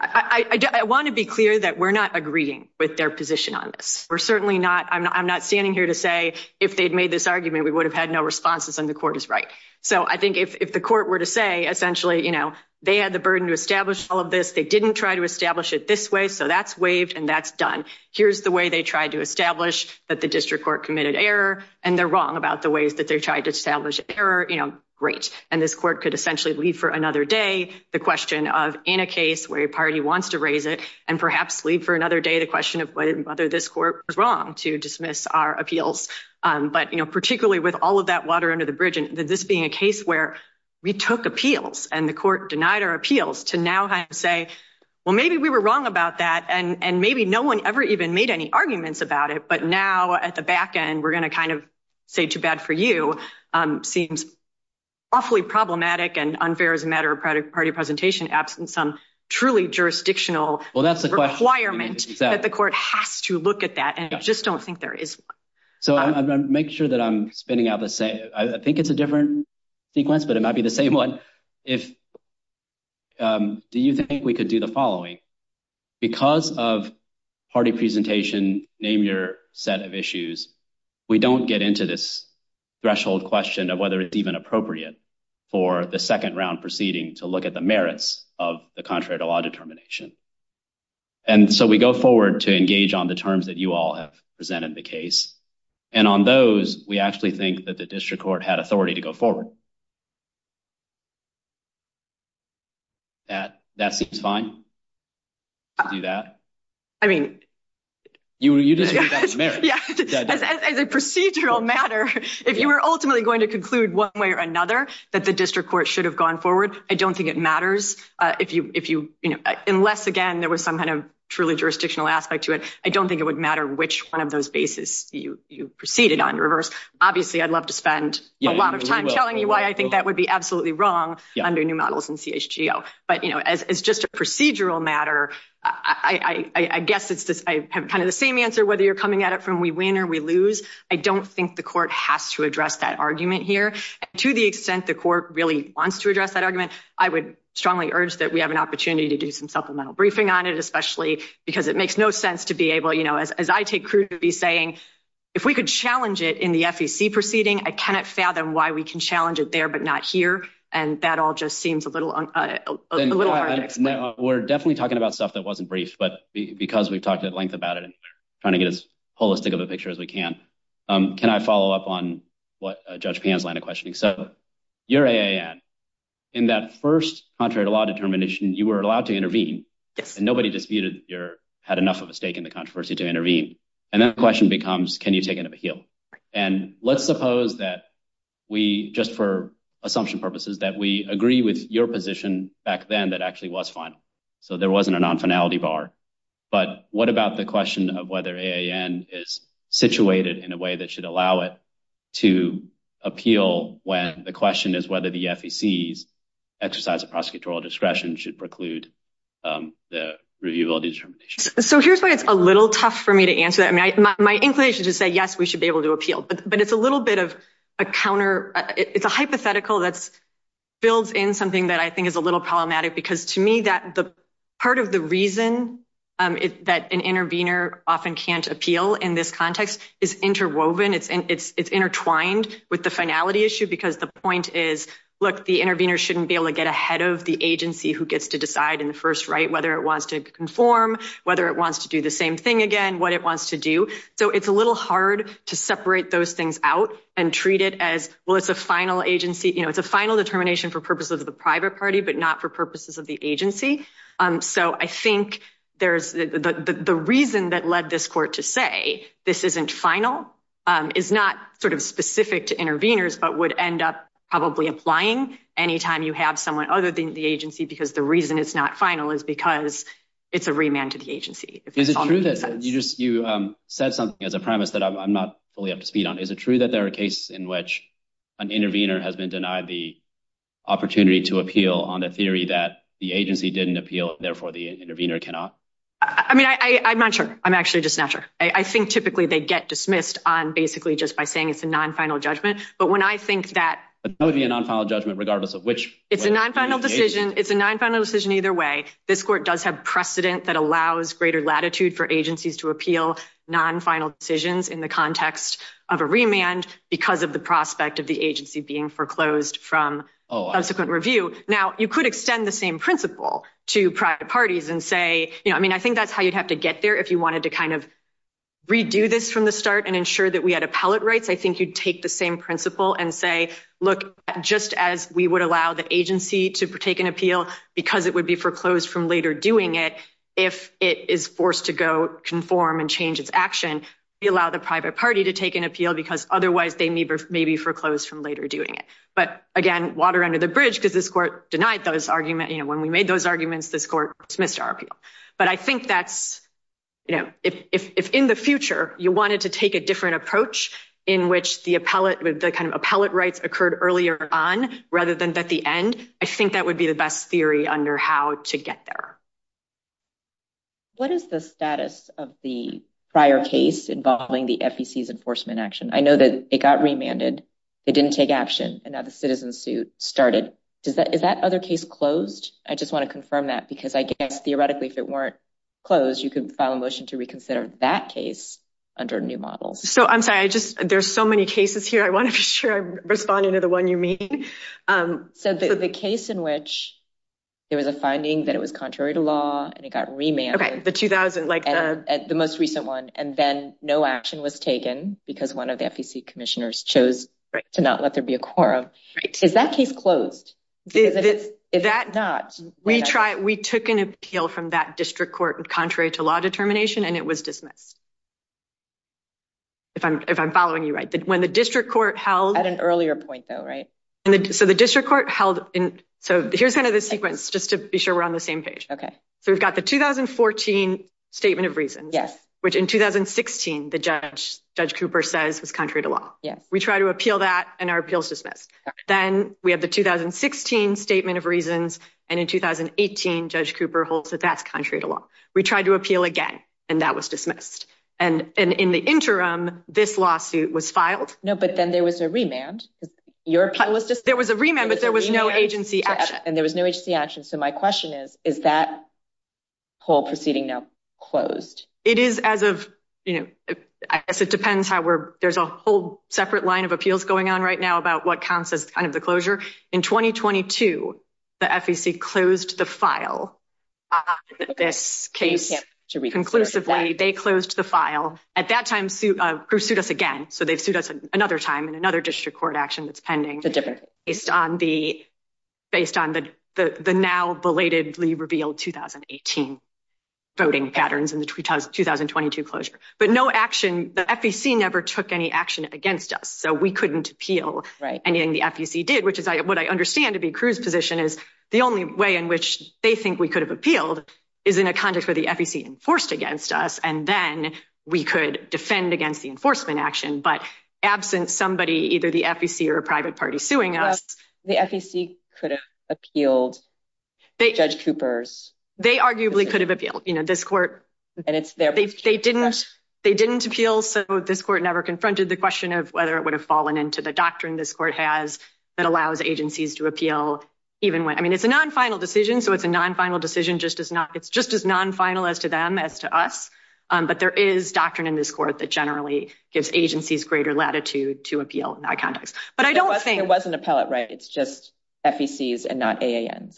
I want to be clear that we're not agreeing with their position on this. We're certainly not, I'm not, I'm not standing here to say if they'd made this argument, we would have had no responses on the court is right. So I think if the court were to say, essentially, you know, they had the burden to establish all of this. They didn't try to establish it this way. So that's waived and that's done. Here's the way they tried to establish that the district court committed error and they're wrong about the ways that they tried to establish error, you know, great. And this court could essentially leave for another day. The question of in a case where your party wants to raise it and perhaps leave for another day, the question of whether this court was wrong to dismiss our appeals. But, you know, particularly with all of that water under the bridge and this being a case where we took appeals and the court denied our appeals to now say, well, maybe we were wrong about that. And maybe no one ever even made any comments about it. But now at the back end, we're going to kind of say too bad for you. Um, seems awfully problematic and unfair as a matter of credit party presentation, absent some truly jurisdictional requirements that the court has to look at that. And I just don't think there is. So I'm going to make sure that I'm spinning out the same. I think it's a different sequence, but it might be the same one. If, um, do you think we could do the following because of party presentation, name your set of issues. We don't get into this threshold question of whether it's even appropriate for the second round proceeding to look at the merits of the contrary to law determination. And so we go forward to engage on the terms that you all have presented the case. And on those, we actually think that the district court had authority to go forward. Um, that that's fine. I mean, you were, you didn't, as a procedural matter, if you were ultimately going to conclude one way or another, that the district court should have gone forward. I don't think it matters. Uh, if you, if you, you know, unless again, there was some kind of truly jurisdictional aspect to it, I don't think it would matter which one of those you, you proceeded on reverse. Obviously I'd love to spend a lot of time telling you why I think that would be absolutely wrong under new models and CHGO, but you know, as it's just a procedural matter, I guess it's just, I have kind of the same answer, whether you're coming at it from we win or we lose. I don't think the court has to address that argument here to the extent the court really wants to address that argument. I would strongly urge that we have an opportunity to do some supplemental briefing on it, especially because it makes no sense to be able, you know, as I take to be saying, if we could challenge it in the sec proceeding, I cannot fathom why we can challenge it there, but not here. And that all just seems a little, a little hard. We're definitely talking about stuff that wasn't brief, but because we've talked at length about it and trying to get as holistic of a picture as we can. Um, can I follow up on what judge Pam's line of questioning? So you're a, and that first contrary to law determination, you were allowed to intervene and nobody disputed your had enough of a stake in the controversy to intervene. And then the question becomes, can you take it up a heel? And let's suppose that we, just for assumption purposes, that we agree with your position back then that actually was final. So there wasn't a non-finality bar, but what about the question of whether AAN is situated in a way that should allow it to appeal when the question is whether the FEC's exercise of prosecutorial discretion should preclude, um, the reviewability determination. So here's what it's a little tough for me to answer that. I mean, my, my English is just that, yes, we should be able to appeal, but it's a little bit of a counter. It's a hypothetical that's filled in something that I think is a little problematic because to me that the part of the reason, um, it's that an intervener often can't appeal in this context is interwoven. It's, it's, it's intertwined with the finality issue because the point is, look, the intervener shouldn't be able to get ahead of the agency who gets to decide in the first, right. Whether it wants to conform, whether it wants to do the same thing again, what it wants to do. So it's a little hard to separate those things out and treat it as, well, it's a final agency, you know, it's a final determination for purposes of the private party, but not for purposes of the agency. Um, so I think there's the, the, the, the reason that led this court to say this isn't final, um, is not sort of specific to interveners, but would end up probably applying anytime you have someone other than the agency, because the reason it's not final is because it's a remand to the agency. Is it true that you just, you, um, said something as a premise that I'm not fully up to speed on. Is it true that there are cases in which an intervener has been denied the opportunity to appeal on a theory that the agency didn't appeal, therefore the intervener cannot? I mean, I, I, I'm not sure. I'm actually just not sure. I think typically they get dismissed on basically just by saying it's a non-final judgment. But when I think that would be a non-final judgment, regardless of which it's a non-final decision, it's a non-final decision either way. This court does have precedent that allows greater latitude for agencies to appeal non-final decisions in the context of a remand because of the prospect of the agency being foreclosed from subsequent review. Now you could extend the same principle to private parties and say, you know, I mean, I think that's how you'd have to get there. If you wanted to kind of redo this from the start and ensure that we had appellate rights, I think you'd take the principle and say, look, just as we would allow the agency to take an appeal because it would be foreclosed from later doing it, if it is forced to go conform and change its action, we allow the private party to take an appeal because otherwise they may be foreclosed from later doing it. But again, water under the bridge because this court denied those arguments. You know, when we made those arguments, this court dismissed our appeal. But I think that's, you wanted to take a different approach in which the appellate with the kind of appellate rights occurred earlier on rather than at the end. I think that would be the best theory under how to get there. What is the status of the prior case involving the FEC's enforcement action? I know that it got remanded. It didn't take action and now the citizen suit started. Is that other case closed? I just want to confirm that because I guess theoretically, if it weren't closed, you could file a motion to reconsider that case under a new model. So I'm sorry, I just, there's so many cases here. I want to be sure I'm responding to the one you mean. So the case in which there was a finding that it was contrary to law and it got remanded, the 2000, like the most recent one, and then no action was taken because one of the FEC commissioners chose to not let there be a quorum. Is that case closed? Is that not? We try, we took an appeal from that district court and law determination and it was dismissed. If I'm, if I'm following you, right. When the district court held an earlier point though, right. And so the district court held in, so here's kind of the sequence just to be sure we're on the same page. Okay. So we've got the 2014 statement of reason, yes. Which in 2016, the judge, judge Cooper says it's contrary to law. Yeah. We try to appeal that and our appeals dismissed. Then we have the 2016 statement of reasons. And in 2018, judge Cooper holds that that's contrary to law. We tried to appeal again and that was dismissed. And in the interim, this lawsuit was filed. No, but then there was a remand. There was a remand, but there was no agency action. And there was no agency action. So my question is, is that whole proceeding now closed? It is as of, you know, I guess it depends how we're, there's a whole separate line of appeals going on right now about what counts as kind of the closure. In 2022, the FEC closed the file. This case should be conclusively, they closed the file at that time, suit us again. So they sued us another time and another district court action that's pending based on the, based on the, the, the now belatedly revealed 2018 voting patterns in the 2022 closure, but no action, the FEC never took any action against us. So we couldn't appeal anything the FEC did, which is what I understand to be Cruz's position is the only way in which they think we could have appealed is in a context where the FEC enforced against us. And then we could defend against the enforcement action, but absent somebody, either the FEC or a private party suing us. The FEC could have appealed judge Cooper's. They arguably could have appealed, you know, this court, they didn't, they didn't appeal. So this court never confronted the question of whether it would have fallen into the doctrine. This court has that allows agencies to appeal even when, I mean, it's a non-final decision. So it's a non-final decision, just as not, it's just as non-finalist to them as to us. But there is doctrine in this court that generally gives agencies greater latitude to appeal in that context, but I don't think it wasn't appellate, right. It's just FECs and not AAN.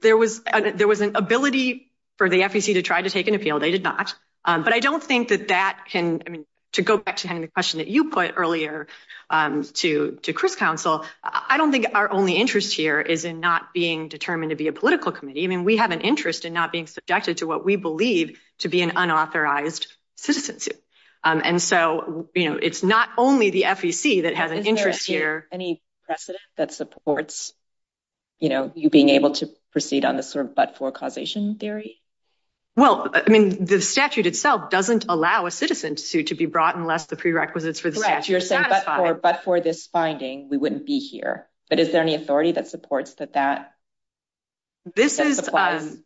There was, there was an ability for the FEC to try to take an appeal. They did not. But I don't think that can, I mean, to go back to having the question that you put earlier to, to Chris counsel, I don't think our only interest here is in not being determined to be a political committee. I mean, we have an interest in not being subjected to what we believe to be an unauthorized citizen. And so, you know, it's not only the FEC that has an interest here. Any precedent that supports, you know, you being able to proceed on this or, but for causation theory? Well, I mean, the statute itself doesn't allow a citizen to be brought unless the prerequisites for the statute. But for this finding, we wouldn't be here, but is there any authority that supports that that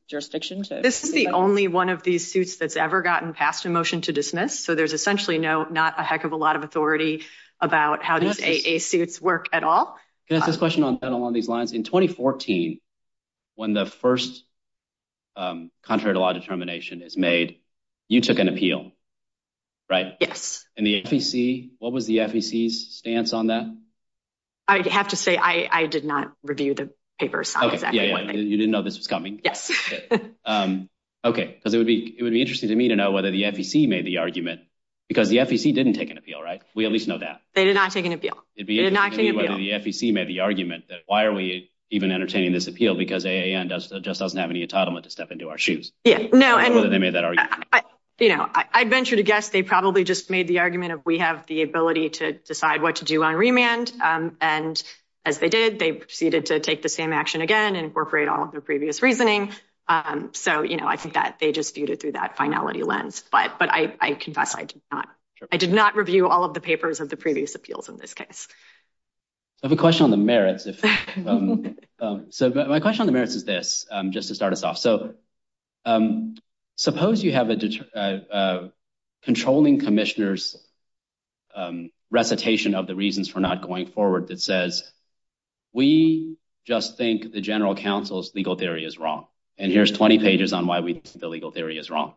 jurisdiction? This is the only one of these suits that's ever gotten passed in motion to dismiss. So there's essentially no, not a heck of a lot of authority about how does AA suits work at all. In 2014, when the first contrary to law determination is made, you took an appeal, right? And the FEC, what was the FEC's stance on that? I have to say, I did not review the papers. You didn't know this was coming. Okay. So there would be, it would be interesting to me to know whether the FEC made the argument because the FEC didn't take an appeal, right? We at least know that. They did not take an appeal. The FEC made the argument that why are we even entertaining this appeal? Because AA just doesn't have any entitlement to step into our shoes. I'd venture to guess they probably just made the argument of, we have the ability to decide what to do on remand. And as they did, they proceeded to take the same action again and incorporate all of their previous reasoning. So I think that they just viewed it through that finality lens, but I confess I did not. I did not review all of the papers of the previous appeals in this case. I have a question on the merits. So my question on the merits is this, just to start us off. So suppose you have a controlling commissioner's recitation of the reasons for not going forward that says, we just think the general counsel's legal theory is wrong. And here's 20 pages on why we think the legal theory is wrong.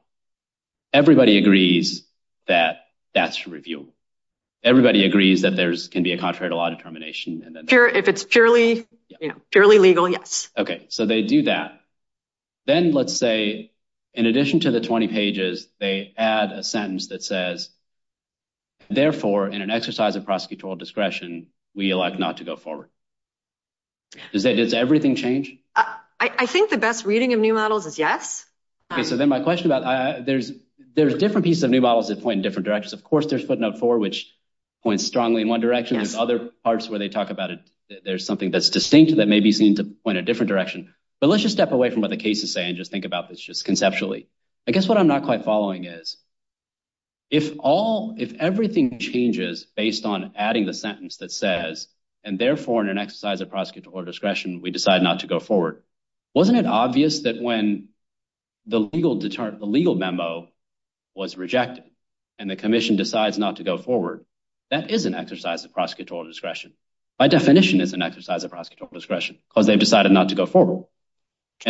Everybody agrees that that's reviewable. Everybody agrees that there can be a contrary to law determination. If it's purely legal, yes. Okay. So they do that. Then let's say, in addition to the 20 pages, they add a sentence that says, therefore, in an exercise of prosecutorial discretion, we elect not to go forward. Does everything change? I think the best reading of new models is yes. Okay. So then my question about, there's different pieces of new models that point different directions. Of course, there's footnote four, which points strongly in one direction. There's other parts where they talk about it. There's something that's distinct that may be seen to point a different direction. But let's just step away from what the cases say and just think about this just conceptually. I guess what I'm not quite following is, if everything changes based on adding the sentence that says, and therefore, in an exercise of prosecutorial discretion, we decide not to go forward. Wasn't it obvious that when the legal memo was rejected, the commission decides not to go forward, that is an exercise of prosecutorial discretion. By definition, it's an exercise of prosecutorial discretion because they've decided not to go forward.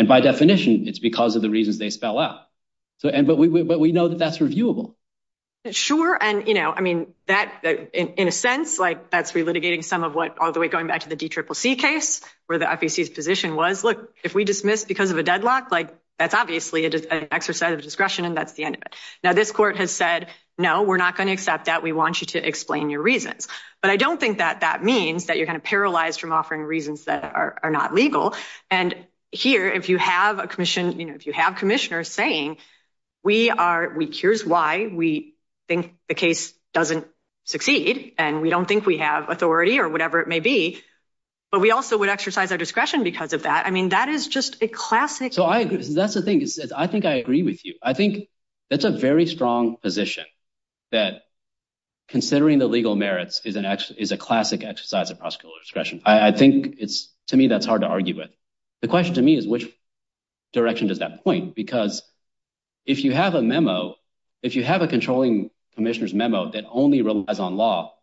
By definition, it's because of the reasons they spell out. But we know that that's reviewable. Sure. In a sense, that's re-litigating some of what all the way going back to the DCCC case, where the FEC's position was, look, if we dismiss because of a deadlock, that's obviously an exercise of discretion and that's the end of it. Now, this court has said, no, we're not going to accept that. We want you to explain your reasons. But I don't think that that means that you're going to paralyze from offering reasons that are not legal. And here, if you have commissioners saying, here's why we think the case doesn't succeed, and we don't think we have authority or whatever it may be, but we also would exercise our discretion because of that. I mean, that is just a classic- That's the thing. I think I agree with you. I think that's a very strong position that considering the legal merits is a classic exercise of prosecutorial discretion. I think it's, to me, that's hard to argue with. The question to me is which direction does that point? Because if you have a memo, if you have a controlling commissioner's memo that only relies on law,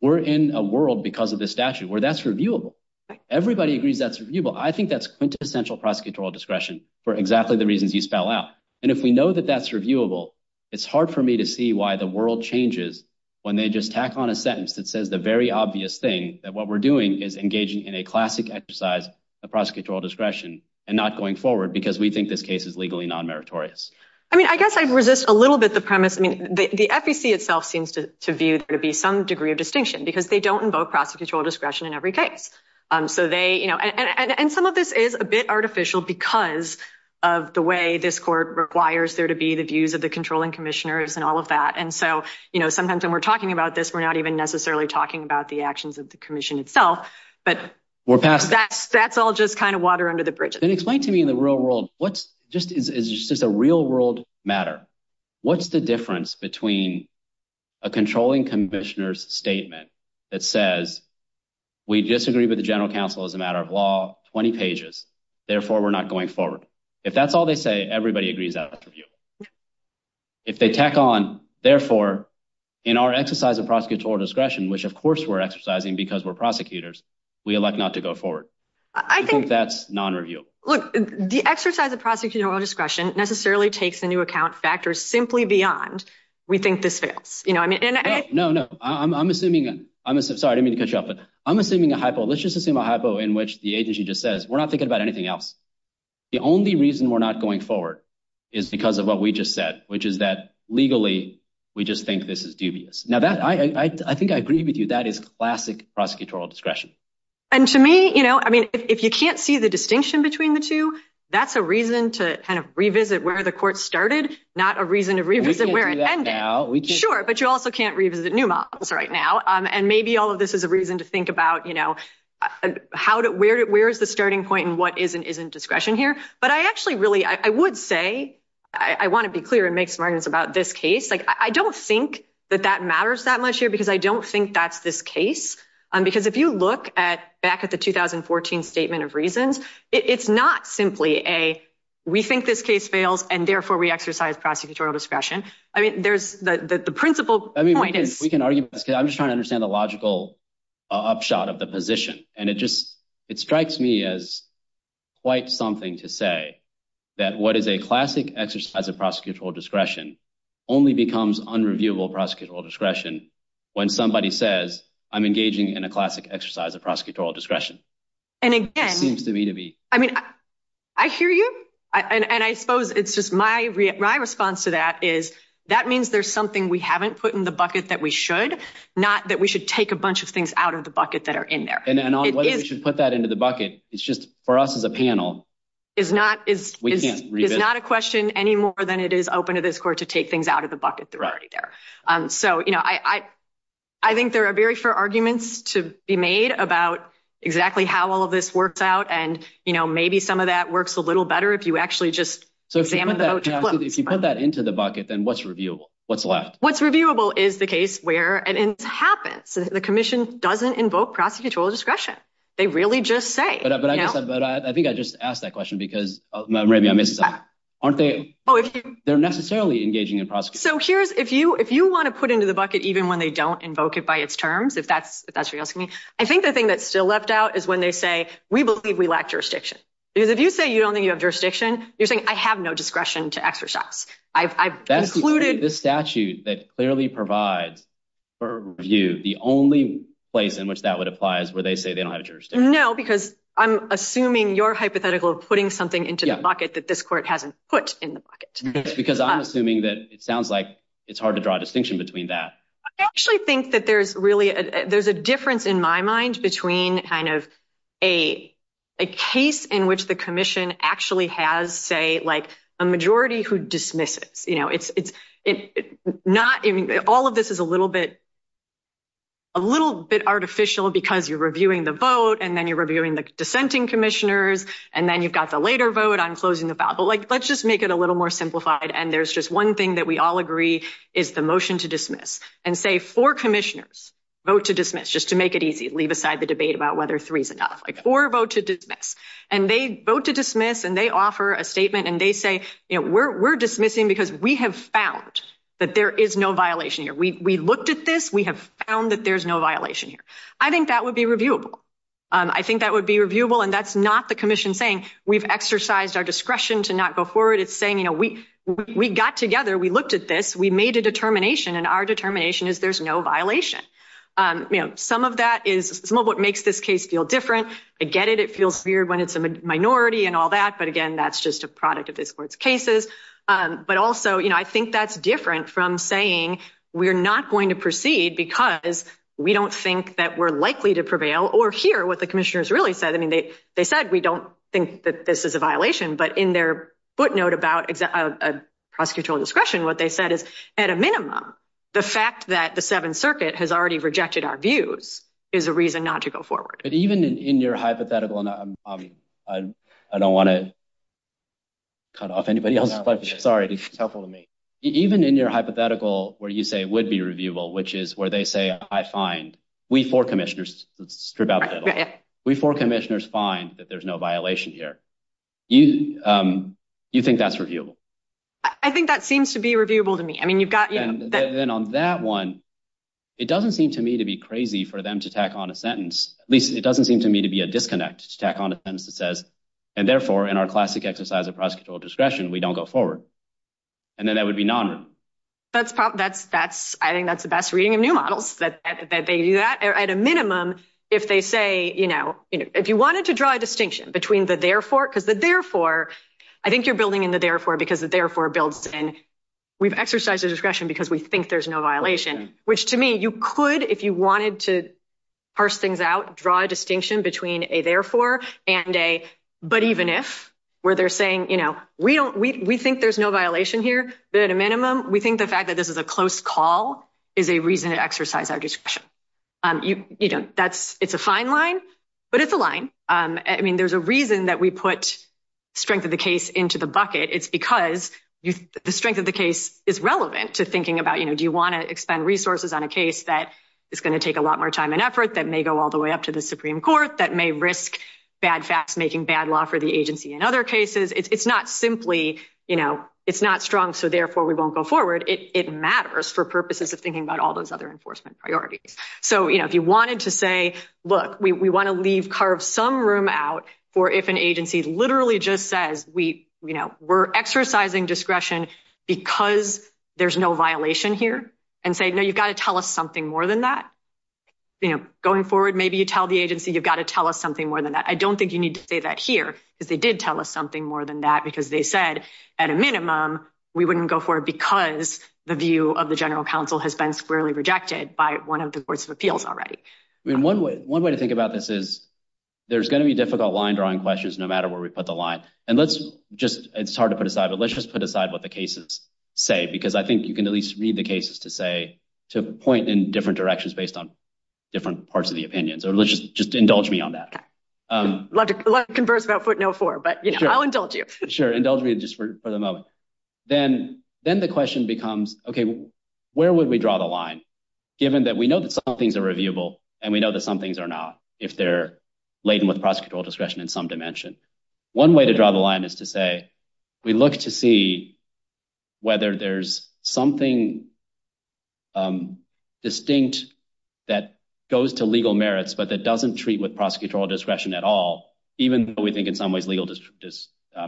we're in a world because of the statute where that's reviewable. Everybody agrees that's quintessential prosecutorial discretion for exactly the reasons you spell out. And if we know that that's reviewable, it's hard for me to see why the world changes when they just tack on a sentence that says the very obvious thing that what we're doing is engaging in a classic exercise of prosecutorial discretion and not going forward because we think this case is legally non-meritorious. I mean, I guess I'd resist a little bit the premise. I mean, the FEC itself seems to view there to be some degree of distinction because they don't invoke prosecutorial discretion in every case. And some of this is a bit artificial because of the way this court requires there to be the views of the controlling commissioners and all of that. And so sometimes when we're talking about this, we're not even necessarily talking about the actions of the commission itself, but that's all just kind of water under the bridge. Then explain to me in the real world, is this just a real world matter? What's the difference between a controlling commissioner's statement that says, we disagree with the general counsel as a matter of law, 20 pages, therefore we're not going forward. If that's all they say, everybody agrees that's reviewable. If they tack on, therefore in our exercise of prosecutorial discretion, which of course we're exercising because we're prosecutors, we elect not to go forward. I think that's non-reviewable. Look, the exercise of prosecutorial discretion necessarily takes into account factors simply beyond we think this fails. No, no, I'm assuming, I'm sorry, I didn't mean to cut you off, but I'm assuming a hypo, let's just assume a hypo in which the agency just says, we're not thinking about anything else. The only reason we're not going forward is because of what we just said, which is that legally we just think this is dubious. Now that I think I agree with you, that is classic prosecutorial discretion. And to me, I mean, if you can't see the distinction between the two, that's a reason to kind of revisit where the court started, not a reason to revisit where it ended. Sure, but you also can't revisit new models right now. And maybe all of this is a reason to think about, you know, where's the starting point and what is and isn't discretion here. But I actually really, I would say, I want to be clear and make some arguments about this case. Like I don't think that that matters that much here because I don't think that's this case. Um, because if you look at back at the 2014 statement of reasons, it's not simply a, we think this case fails and therefore we exercise prosecutorial discretion. I mean, there's the, the, the principle, we can argue, I'm just trying to understand the logical upshot of the position. And it just, it strikes me as quite something to say that what is a classic exercise of prosecutorial discretion only becomes unreviewable prosecutorial discretion. When somebody says I'm engaging in a classic exercise of prosecutorial discretion. And again, I mean, I hear you. And I suppose it's just my, my response to that is that means there's something we haven't put in the bucket that we should not, that we should take a bunch of things out of the bucket that are in there. We should put that into the bucket. It's just for us as a panel is not, it's not a question any more than it is open to this court to take things out of the bucket that are already there. Um, so, you know, I, I, I think there are very fair arguments to be made about exactly how all of this works out. And, you know, maybe some of that works a little better if you actually just, if you put that into the bucket, then what's reviewable, what's left, what's reviewable is the case where it happens. The commission doesn't invoke prosecutorial discretion. They really just say, but I think I just asked that question because aren't they? Oh, they're necessarily engaging in prosecute. So here's, if you, if you want to put into the bucket, even when they don't invoke it by its terms, if that's, if that's what you're asking me, I think the thing that's still left out is when they say, we believe we lack jurisdiction. Because if you say you don't think you have jurisdiction, you're saying I have no discretion to exercise. I've, I've included the statute that clearly provides for you the only place in which that would apply is where they say they don't have No, because I'm assuming your hypothetical of putting something into the bucket that this court hasn't put in the bucket. Because I'm assuming that it sounds like it's hard to draw a distinction between that. I actually think that there's really, there's a difference in my mind between kind of a, a case in which the commission actually has say like a majority who dismisses, you know, it's, it's not, I mean, all of this is a little bit, a little bit artificial because you're reviewing the vote and then you're reviewing the dissenting commissioners. And then you've got the later vote on closing about, but like, let's just make it a little more simplified. And there's just one thing that we all agree is the motion to dismiss and say for commissioners vote to dismiss just to make it easy, leave aside the debate about whether three is enough or vote to dismiss and they vote to dismiss and they offer a statement and they say, you know, we're, we're dismissing because we have found that there is no violation here. We, um, I think that would be reviewable and that's not the commission thing. We've exercised our discretion to not go forward. It's saying, you know, we, we got together, we looked at this, we made a determination and our determination is there's no violation. Um, you know, some of that is some of what makes this case feel different. I get it. It feels weird when it's a minority and all that, but again, that's just a product of this court's cases. Um, but also, you know, I think that's different from saying we're not going to proceed because we don't think that we're likely to prevail or hear what the commissioners really said. I mean, they, they said, we don't think that this is a violation, but in their footnote about a prosecutorial discretion, what they said is at a minimum, the fact that the seventh circuit has already rejected our views is a reason not to go forward. But even in your hypothetical, and I'm, um, I'm, I don't want to cut off anybody else. I'm sorry. Be careful with me. Even in your hypothetical, where you say would be reviewable, which is where they say, I find we four commissioners, we four commissioners find that there's no violation here. You, um, you think that's reviewable? I think that seems to be reviewable to me. I mean, you've got that one. It doesn't seem to me to be crazy for them to tack on a sentence. At least it doesn't seem to me to be a disconnect to tack on a sentence that says, and therefore in our classic exercise of discretion, we don't go forward. And then that would be non. That's that's, that's, I think that's the best reading of new models that they do that at a minimum. If they say, you know, if you wanted to draw a distinction between the therefore, because the therefore, I think you're building in the therefore, because the therefore builds in. We've exercised your discretion because we think there's no violation, which to me, you could, if you wanted to parse things out, draw a distinction between a therefore and a, but even if where they're saying, you know, we don't, we, we think there's no violation here, but at a minimum, we think the fact that this is a close call is a reason to exercise our discretion. Um, you, you know, that's, it's a fine line, but it's a line. Um, I mean, there's a reason that we put strength of the case into the bucket. It's because the strength of the case is relevant to thinking about, you know, do you want to expend resources on a case that it's going to take a lot more time and effort that may go all the way up to the Supreme court that may risk bad, making bad law for the agency. In other cases, it's not simply, you know, it's not strong. So therefore we won't go forward. It matters for purposes of thinking about all those other enforcement priorities. So, you know, if you wanted to say, look, we want to leave, carve some room out for, if an agency literally just says, we, you know, we're exercising discretion because there's no violation here and say, no, you've got to tell us something more than that. You know, going forward, maybe you tell the agency, you've got to tell us something more than that. I don't think you need to say that here, but they did tell us something more than that because they said at a minimum, we wouldn't go forward because the view of the general council has been squarely rejected by one of the boards of appeals already. I mean, one way, one way to think about this is there's going to be difficult line drawing questions, no matter where we put the line and let's just, it's hard to put aside, but let's just put aside what the cases say, because I think you can at least read the cases to say, to point in different directions based on different parts of the opinions or let's just indulge me on that. I'd love to converse about footnail four, but I'll indulge you. Sure, indulge me just for the moment. Then the question becomes, okay, where would we draw the line given that we know that some things are reviewable and we know that some things are not, if they're laden with prosecutorial discretion in some dimension. One way to draw the line is to say we look to see whether there's something distinct that goes to legal merits, but that doesn't treat with prosecutorial discretion at all, even though we think in some ways legal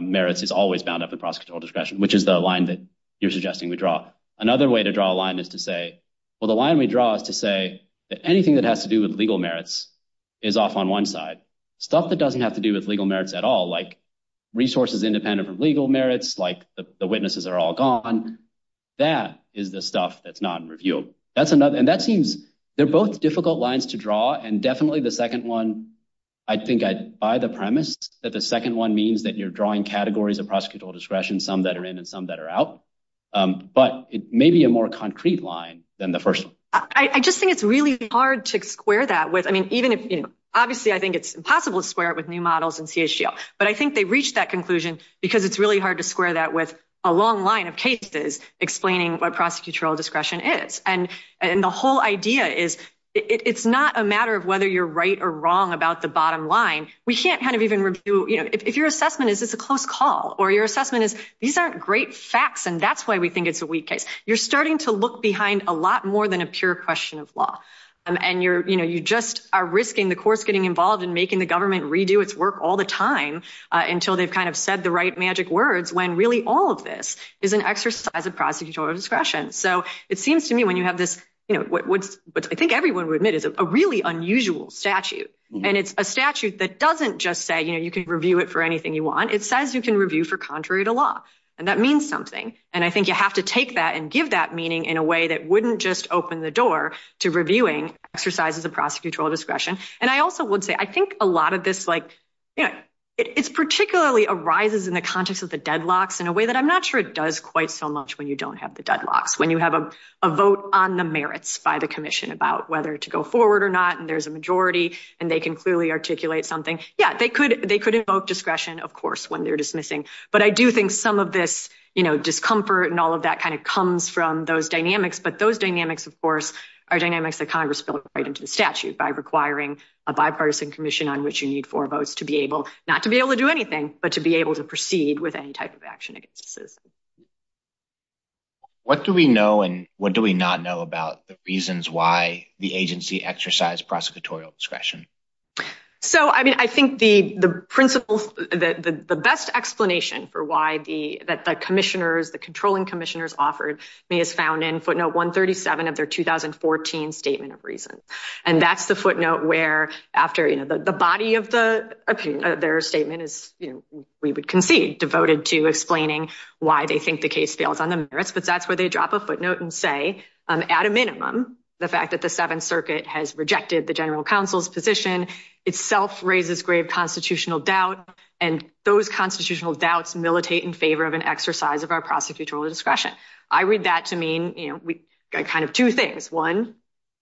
merits is always bound up in prosecutorial discretion, which is the line that you're suggesting we draw. Another way to draw a line is to say, well, the line we draw is to say that anything that has to do with legal merits is off on one side. Stuff that doesn't have to do with legal merits at all, like resources independent of legal merits, like the witnesses are all gone. That is the stuff that's not in review. They're both difficult lines to draw and definitely the second one, I think by the premise that the second one means that you're drawing categories of prosecutorial discretion, some that are in and some that are out, but it may be a more concrete line than the first one. I just think it's really hard to square that with, I mean, obviously I think it's impossible to square it with new models in CHGO, but I think they reached that conclusion because it's really hard to square that with a long line of cases explaining what prosecutorial discretion is. The whole idea is it's not a matter of whether you're right or wrong about the bottom line. We can't kind of even review, if your assessment is it's a close call or your assessment is these aren't great facts and that's why we think it's a weak case. You're starting to look behind a lot more than a pure question of law. You just are risking the courts getting involved in making the government redo its work all the time until they've kind of said the right magic words when really all of this is an exercise of prosecutorial discretion. So it seems to me when you have this, you know, what I think everyone would admit is a really unusual statute and it's a statute that doesn't just say, you know, you can review it for anything you want. It says you can review for contrary to law and that means something and I think you have to take that and give that meaning in a way that wouldn't just open the door to reviewing exercises of prosecutorial discretion. And I also would say I think a lot of this like, you know, it's particularly arises in the conscious of the deadlocks in a way that I'm not sure it does quite so much when you don't have the deadlocks. When you have a vote on the merits by the commission about whether to go forward or not and there's a majority and they can clearly articulate something. Yeah, they could invoke discretion of course when they're dismissing but I do think some of this, you know, discomfort and all of that kind of comes from those dynamics but those dynamics of course are dynamics that Congress built right into the statute by requiring a bipartisan commission on which you need four votes to be able not to be able to do anything but to be able to proceed with any type of action against the system. What do we know and what do we not know about the reasons why the agency exercised prosecutorial discretion? So, I mean, I think the principles, the best explanation for why the commissioners, the controlling commissioners offered may have in footnote 137 of their 2014 statement of reasons and that's the footnote where after, you know, the body of the opinion of their statement is, you know, we would concede devoted to explaining why they think the case fails on the merits but that's where they drop a footnote and say at a minimum the fact that the seventh circuit has rejected the general counsel's position itself raises grave constitutional doubt and those constitutional doubts militate in favor of an exercise of our prosecutorial discretion. I read that to mean kind of two things. One,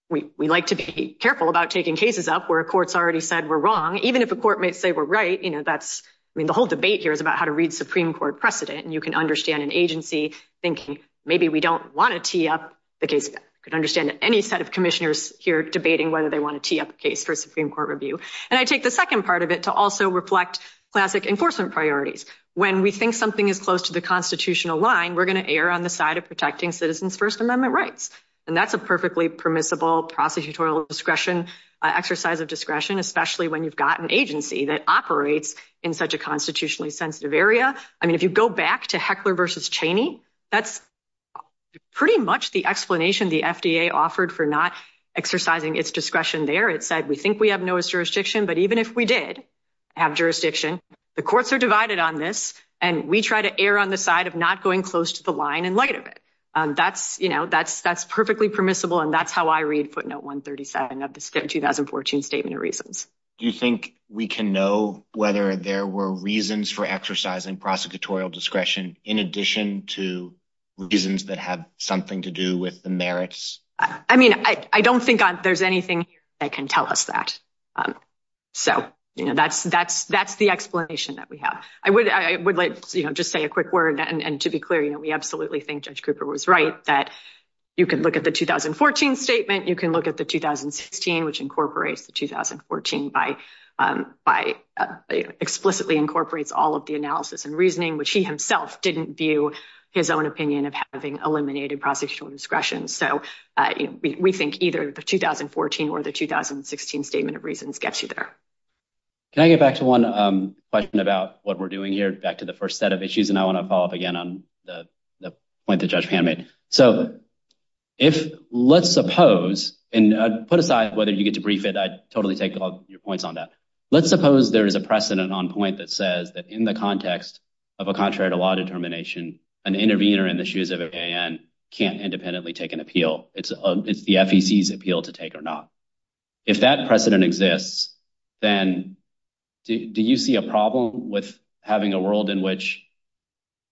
we like to be careful about taking cases up where a court's already said we're wrong even if a court may say we're right, you know, that's, I mean, the whole debate here is about how to read Supreme Court precedent and you can understand an agency thinking maybe we don't want to tee up the case. I can understand any set of commissioners here debating whether they want to tee up a case for a Supreme Court review and I take the second part of it to also reflect classic enforcement priorities. When we think something is close to the constitutional line, we're going to err on the side of protecting citizens' First Amendment rights and that's a perfectly permissible prosecutorial discretion, exercise of discretion, especially when you've got an agency that operates in such a constitutionally sensitive area. I mean, if you go back to Heckler versus Cheney, that's pretty much the explanation the FDA offered for not exercising its discretion there. It said we think we have no jurisdiction but even if we did have jurisdiction, the courts are divided on this and we try to err on the side of not going close to the line in light of it. That's, you know, that's perfectly permissible and that's how I read footnote 137 of the 2014 Statement of Reasons. Do you think we can know whether there were reasons for exercising prosecutorial discretion in addition to reasons that have something to do with the merits? I mean, I don't think there's anything that can tell us that. So, you know, that's the explanation that we have. I would like, you know, just say a quick word and to be clear, you know, we absolutely think Judge Cooper was right that you can look at the 2014 Statement, you can look at the 2016, which incorporates the 2014 by explicitly incorporates all of the analysis and reasoning, which he himself didn't view his own opinion of having eliminated prosecutorial discretion. So we think either the 2014 or the 2016 Statement of Reasons gets you there. Can I get back to one question about what we're doing here, back to the first set of issues, and I want to follow up again on the point that Judge Pan made. So if, let's suppose, and put aside whether you get to brief it, I totally take all your points on that. Let's suppose there is a precedent on point that says that in the context of a contrary to law determination, an intervener in the shoes of an A.N. can't independently take an appeal. It's the FEC's appeal to take or not. If that precedent exists, then do you see a problem with having a world in which,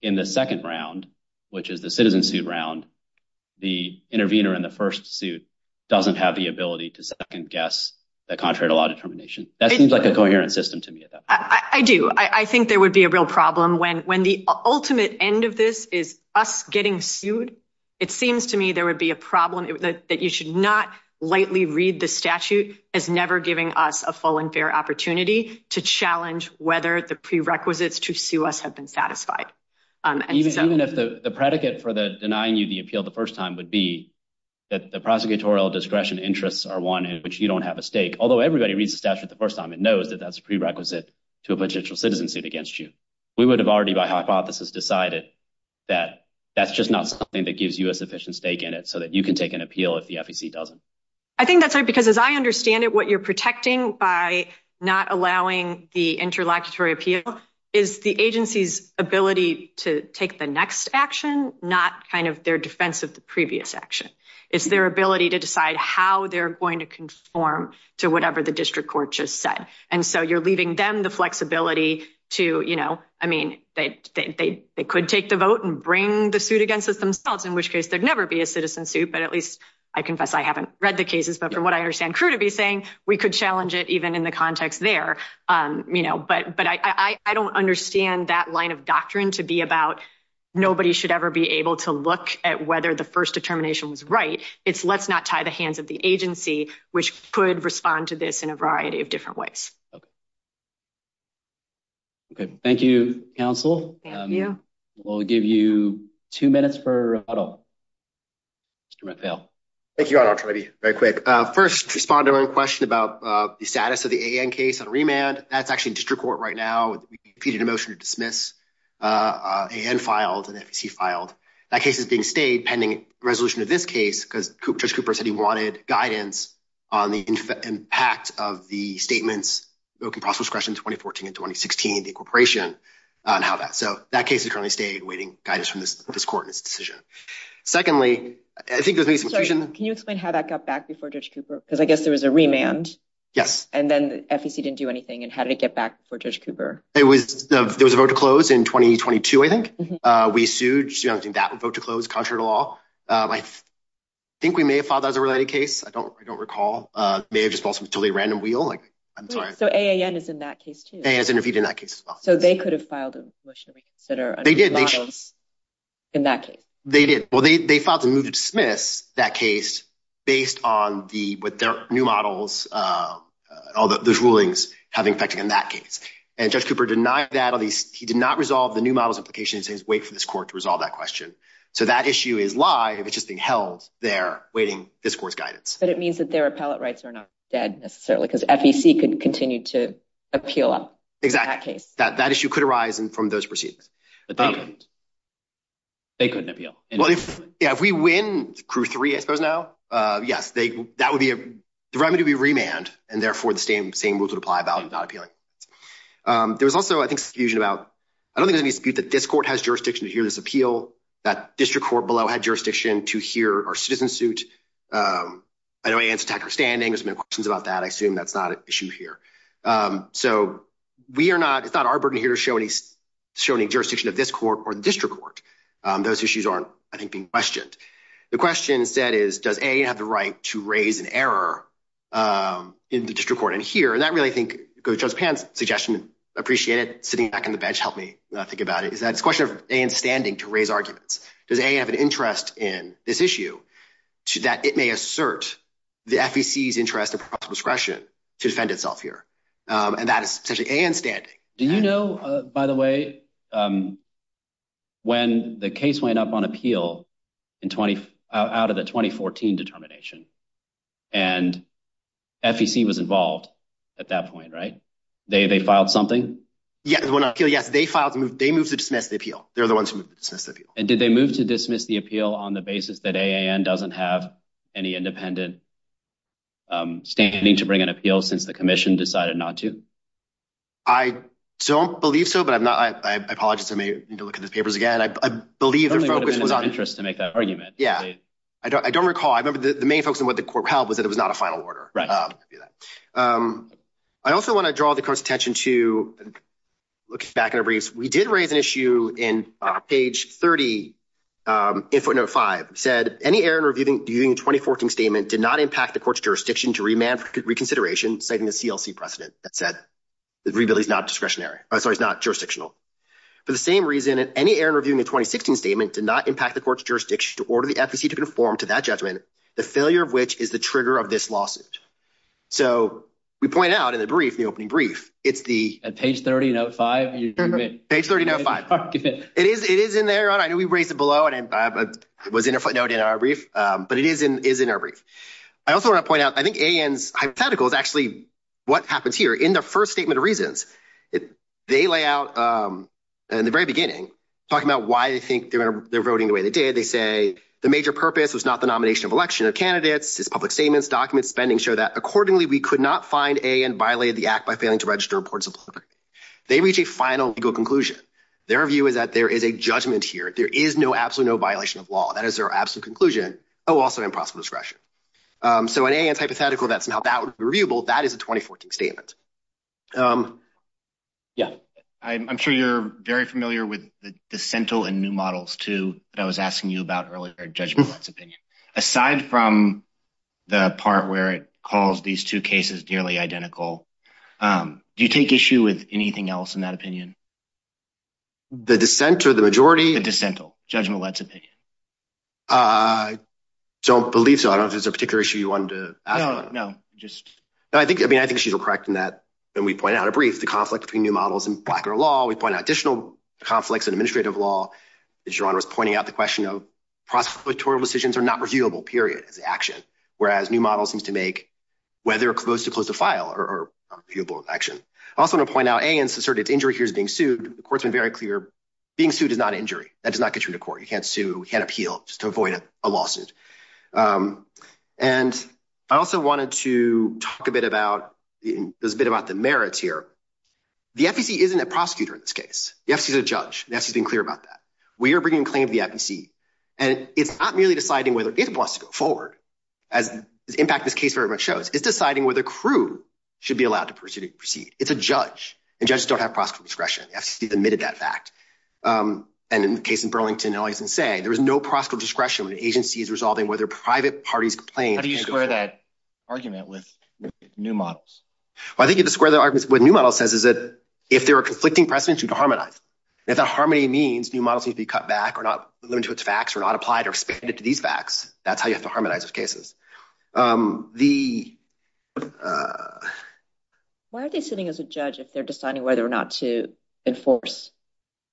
in the second round, which is the citizen suit round, the intervener in the first suit doesn't have the ability to second guess the contrary to law determination? That seems like a coherent system to me. I do. I think there would be a real problem when the ultimate end of this is us getting sued. It seems to me there would be a problem that you should not lightly read the statute as never giving us a full and fair opportunity to challenge whether the prerequisites to sue us have been satisfied. Even if the predicate for denying you the appeal the first time would be that the prosecutorial discretion interests are one in which you don't have a stake, although everybody reads the statute the first time and knows that that's a prerequisite to a potential citizen suit against you. We would have already, by hypothesis, decided that that's just not something that gives you a sufficient stake in it so that you can take an appeal if the FEC doesn't. I think that's right because, as I understand it, what you're protecting by not allowing the interlocutory appeal is the agency's ability to take the next action, not their defense of the previous action. It's their ability to decide how they're going to conform to whatever the district court just said. You're leaving them the flexibility to, I mean, they could take the vote and bring the suit against themselves, in which case there'd never be a citizen suit, but at least, I confess I haven't read the cases, but from what I understand crew to be saying, we could challenge it even in the context there. I don't understand that line of doctrine to be about nobody should ever be able to look at whether the first determination was right. It's let's not tie the hands of the agency, which could respond to this in a variety of different ways. Okay. Thank you, counsel. Thank you. We'll give you two minutes for Adel. Thank you, Adel, very quick. First, to respond to a question about the status of the AN case and remand, that's actually district court right now. We've completed a motion to dismiss. AN filed and FEC filed. That case is being stayed pending resolution of this case because Judge Cooper said he wanted guidance on the impact of the statements, broken process questions, 2014 and 2016, the incorporation on how that, so that case has currently stayed waiting guidance from this court and its decision. Secondly, I think there's- Sorry, can you explain how that got back before Judge Cooper? Because I guess there was a remand. Yes. And then FEC didn't do anything and how did it get back before Judge Cooper? There was a vote to close in 2022, I think. We sued. I think that would vote to close, contrary to law. I think we may have filed that as a related case. I don't recall. They just want some totally random wheel. I'm sorry. So AAN is in that case too? AAN is in that case as well. So they could have filed a motion that are- They did. In that case? They did. Well, they filed the move to dismiss that case based on the new models, all those rulings having effect in that case. And Judge Cooper denied that. He did not resolve the new models implications and wait for this court to resolve that question. So that issue is live and it's just been held there waiting this court's guidance. But it means that their appellate rights are not dead necessarily because FEC could continue to appeal on that case. Exactly. That issue could arise from those proceedings. But they couldn't. They couldn't appeal. Well, if we win CRU 3, I suppose now, yes, that would be a remedy to be remanded and therefore same rules would apply about not appealing. There was also, I think, confusion about- I don't think there's any dispute that this court has jurisdiction to hear this appeal, that district court below had jurisdiction to hear our citizen suit. I know AAN's tech understanding. There's been questions about that. I assume that's not an issue here. So it's not our burden here to show any jurisdiction of this court or district court. Those issues aren't, I think, being questioned. The question said is, does AAN have the right to raise an error in the district court in here? And I really think Judge Pan's suggestion, appreciate it, sitting back in the bench helped me think about it, is that it's a question of AAN's standing to raise arguments. Does AAN have an interest in this issue that it may assert the FEC's interest and possible discretion to defend itself here? And that is essentially AAN's standing. Do you know, by the way, when the case went up on appeal out of the 2014 determination? And FEC was involved at that point, right? They filed something? Yes. They moved to dismiss the appeal. They're the ones who moved to dismiss the appeal. And did they move to dismiss the appeal on the basis that AAN doesn't have any independent standing to bring an appeal since the commission decided not to? I don't believe so, but I apologize. I may need to look at the papers again. I believe- I don't know if they have an interest to make that argument. Yeah. I don't recall. I remember the main focus of what the court held was that it was not a final order. I also want to draw the court's attention to, looking back in a brief, we did raise an issue in page 30, input number five, said any error in reviewing the 2014 statement did not impact the court's jurisdiction to remand reconsideration citing the CLC precedent that said the review is not jurisdictional. For the same reason, any error in reviewing the statement did not impact the court's jurisdiction to order the FEC to conform to that judgment, the failure of which is the trigger of this lawsuit. So we point out in the brief, the opening brief, it's the- Page 30, note five. Page 30, note five. It is in there. I know we raised it below and it was in our brief, but it is in our brief. I also want to point out, I think AAN's hypothetical is actually what happens here. In their first statement of reasons, they lay out in the very beginning, talking about why they think they're voting the way they did, they say, the major purpose was not the nomination of election of candidates, it's public statements, documents, spending, show that accordingly we could not find AAN violated the act by failing to register reports of politics. They reach a final legal conclusion. Their view is that there is a judgment here. There is no, absolutely no violation of law. That is their absolute conclusion. Oh, also improper discretion. So in AAN's hypothetical that somehow that would be that is a 2014 statement. Yeah. I'm sure you're very familiar with the central and new models too, that I was asking you about earlier, judgmental opinion. Aside from the part where it calls these two cases nearly identical, do you take issue with anything else in that opinion? The dissent or the majority? The dissental, judgmental opinion. So beliefs, I don't know if there's a particular issue you wanted to- No, just- No, I think she's correct in that. And we point out a brief, the conflict between new models and blocker law. We point out additional conflicts in administrative law. As John was pointing out, the question of prosecutorial decisions are not reviewable, period, it's action. Whereas new models need to make whether it's supposed to close the file or reviewable action. I also want to point out AAN's asserted injury here is being sued. The court's been very clear, being sued is not injury. That does not appeal, just to avoid a lawsuit. And I also wanted to talk a bit about, there's a bit about the merits here. The FTC isn't a prosecutor in this case. The FTC is a judge. The FTC has been clear about that. We are bringing claims to the FTC, and it's not merely deciding whether it wants to go forward, as the impact of this case very much shows. It's deciding whether crew should be allowed to proceed. It's a judge, and judges don't have prosecutorial discretion. The FTC has admitted that fact. And in the case in Burlington, and all you can say, there is no prosecutorial discretion when the agency is resolving whether private parties complain. How do you square that argument with new models? Well, I think you have to square that argument with what new model says, is that if there are conflicting precedents, you have to harmonize. If that harmony means new models need to be cut back or not limited to its facts, or not applied or expanded to these facts, that's how you have to harmonize those cases. Why are they sitting as a judge if they're deciding whether or not to enforce?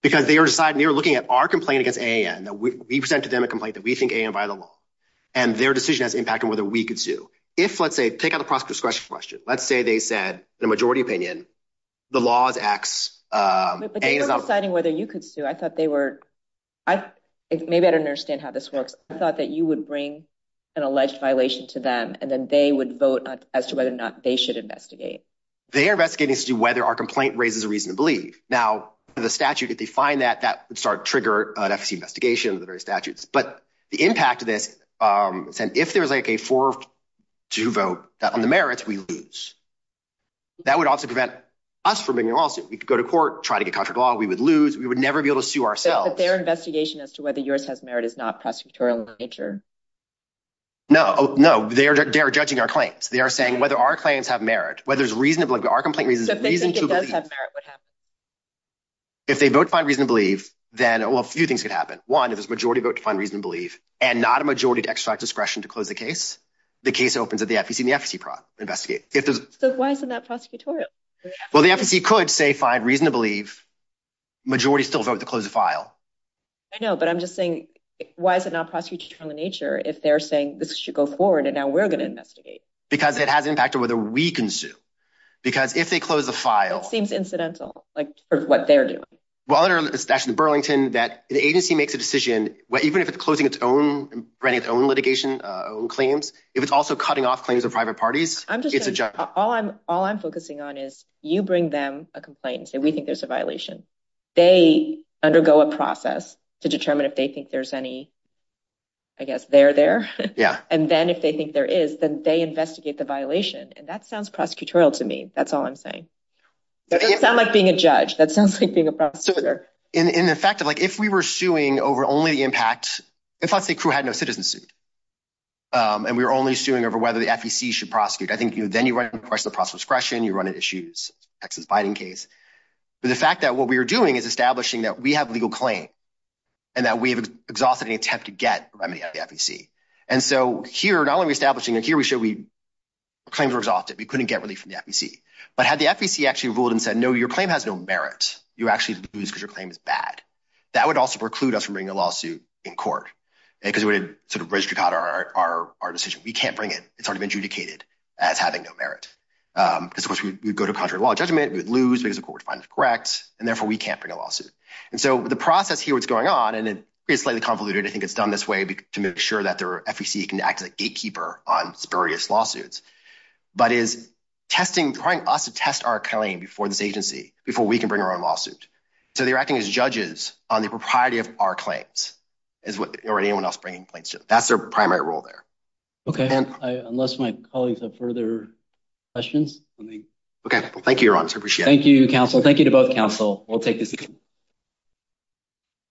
Because they were looking at our complaint against AAN. We've sent to them a complaint that we think AAN violated the law. And their decision has impacted whether we could sue. If, let's say, take out the prosecutorial discretion question. Let's say they said, in a majority opinion, the law acts... But they weren't deciding whether you could sue. I thought they were... Maybe I don't understand how this works. I thought that you would bring an alleged violation to them, and then they would vote as to whether or not they should investigate. They are investigating as to whether our complaint raises a reason to believe. Now, the statute, if they find that, that would start to trigger an FTC investigation with the various statutes. But the impact of this, if there's a 4-2 vote on the merits, we lose. That would also prevent us from winning the lawsuit. We could go to court, try to get sued ourselves. But their investigation as to whether yours has merit is not prosecutorial in nature. No, no. They are judging our claims. They are saying whether our claims have merit, whether it's reasonable... If they both find reason to believe, then, well, a few things could happen. One, if there's a majority vote to find reason to believe, and not a majority to extract discretion to close the case, the case opens at the FTC and the FTC can investigate. But why isn't that prosecutorial? Well, the FTC could, say, find reason to believe. Majority still vote to close the file. I know, but I'm just saying, why is it not prosecutorial in nature if they're saying this should go forward and now we're going to investigate? Because it has an impact on whether we can sue. Because if they close the file... That seems incidental, like, for what they're doing. Well, it's actually Burlington that the agency makes a decision, even if it's closing its own, granting its own litigation, own claims, if it's also cutting off claims of private parties... I'm just saying, all I'm focusing on is you bring them a complaint and say, there's a violation. They undergo a process to determine if they think there's any, I guess, they're there. And then if they think there is, then they investigate the violation. And that sounds prosecutorial to me. That's all I'm saying. It doesn't sound like being a judge. That sounds like being a prosecutor. In effect, if we were suing over only the impact... In fact, the crew had no citizenship. And we were only suing over whether the FTC should prosecute. I think then you run into the question of prosecution, you run into issues, Texas fighting case. But the fact that what we were doing is establishing that we have legal claim and that we have exhausted any attempt to get remedy out of the FTC. And so here, not only are we establishing, and here we show we... Claims were exhausted. We couldn't get relief from the FTC. But had the FTC actually ruled and said, no, your claim has no merit, you actually lose because your claim is bad. That would also preclude us from bringing a lawsuit in court, because we would sort of risk our decision. We can't bring it. It's sort of adjudicated as having no merit. Because of course, we'd go to a contrary law judgment, we'd lose, there's a court response that's correct, and therefore we can't bring a lawsuit. And so the process here, what's going on, and it's slightly convoluted. I think it's done this way to make sure that the FTC can act as a gatekeeper on spurious lawsuits. But it's testing, trying us to test our claim before this agency, before we can bring our own lawsuit. So they're acting as judges on the propriety of our claims, or anyone else bringing claims to them. That's their primary role there. Okay. Unless my colleagues have further questions. Okay. Well, thank you, your honor. Appreciate it. Thank you, counsel. Thank you to both counsel. We'll take this again.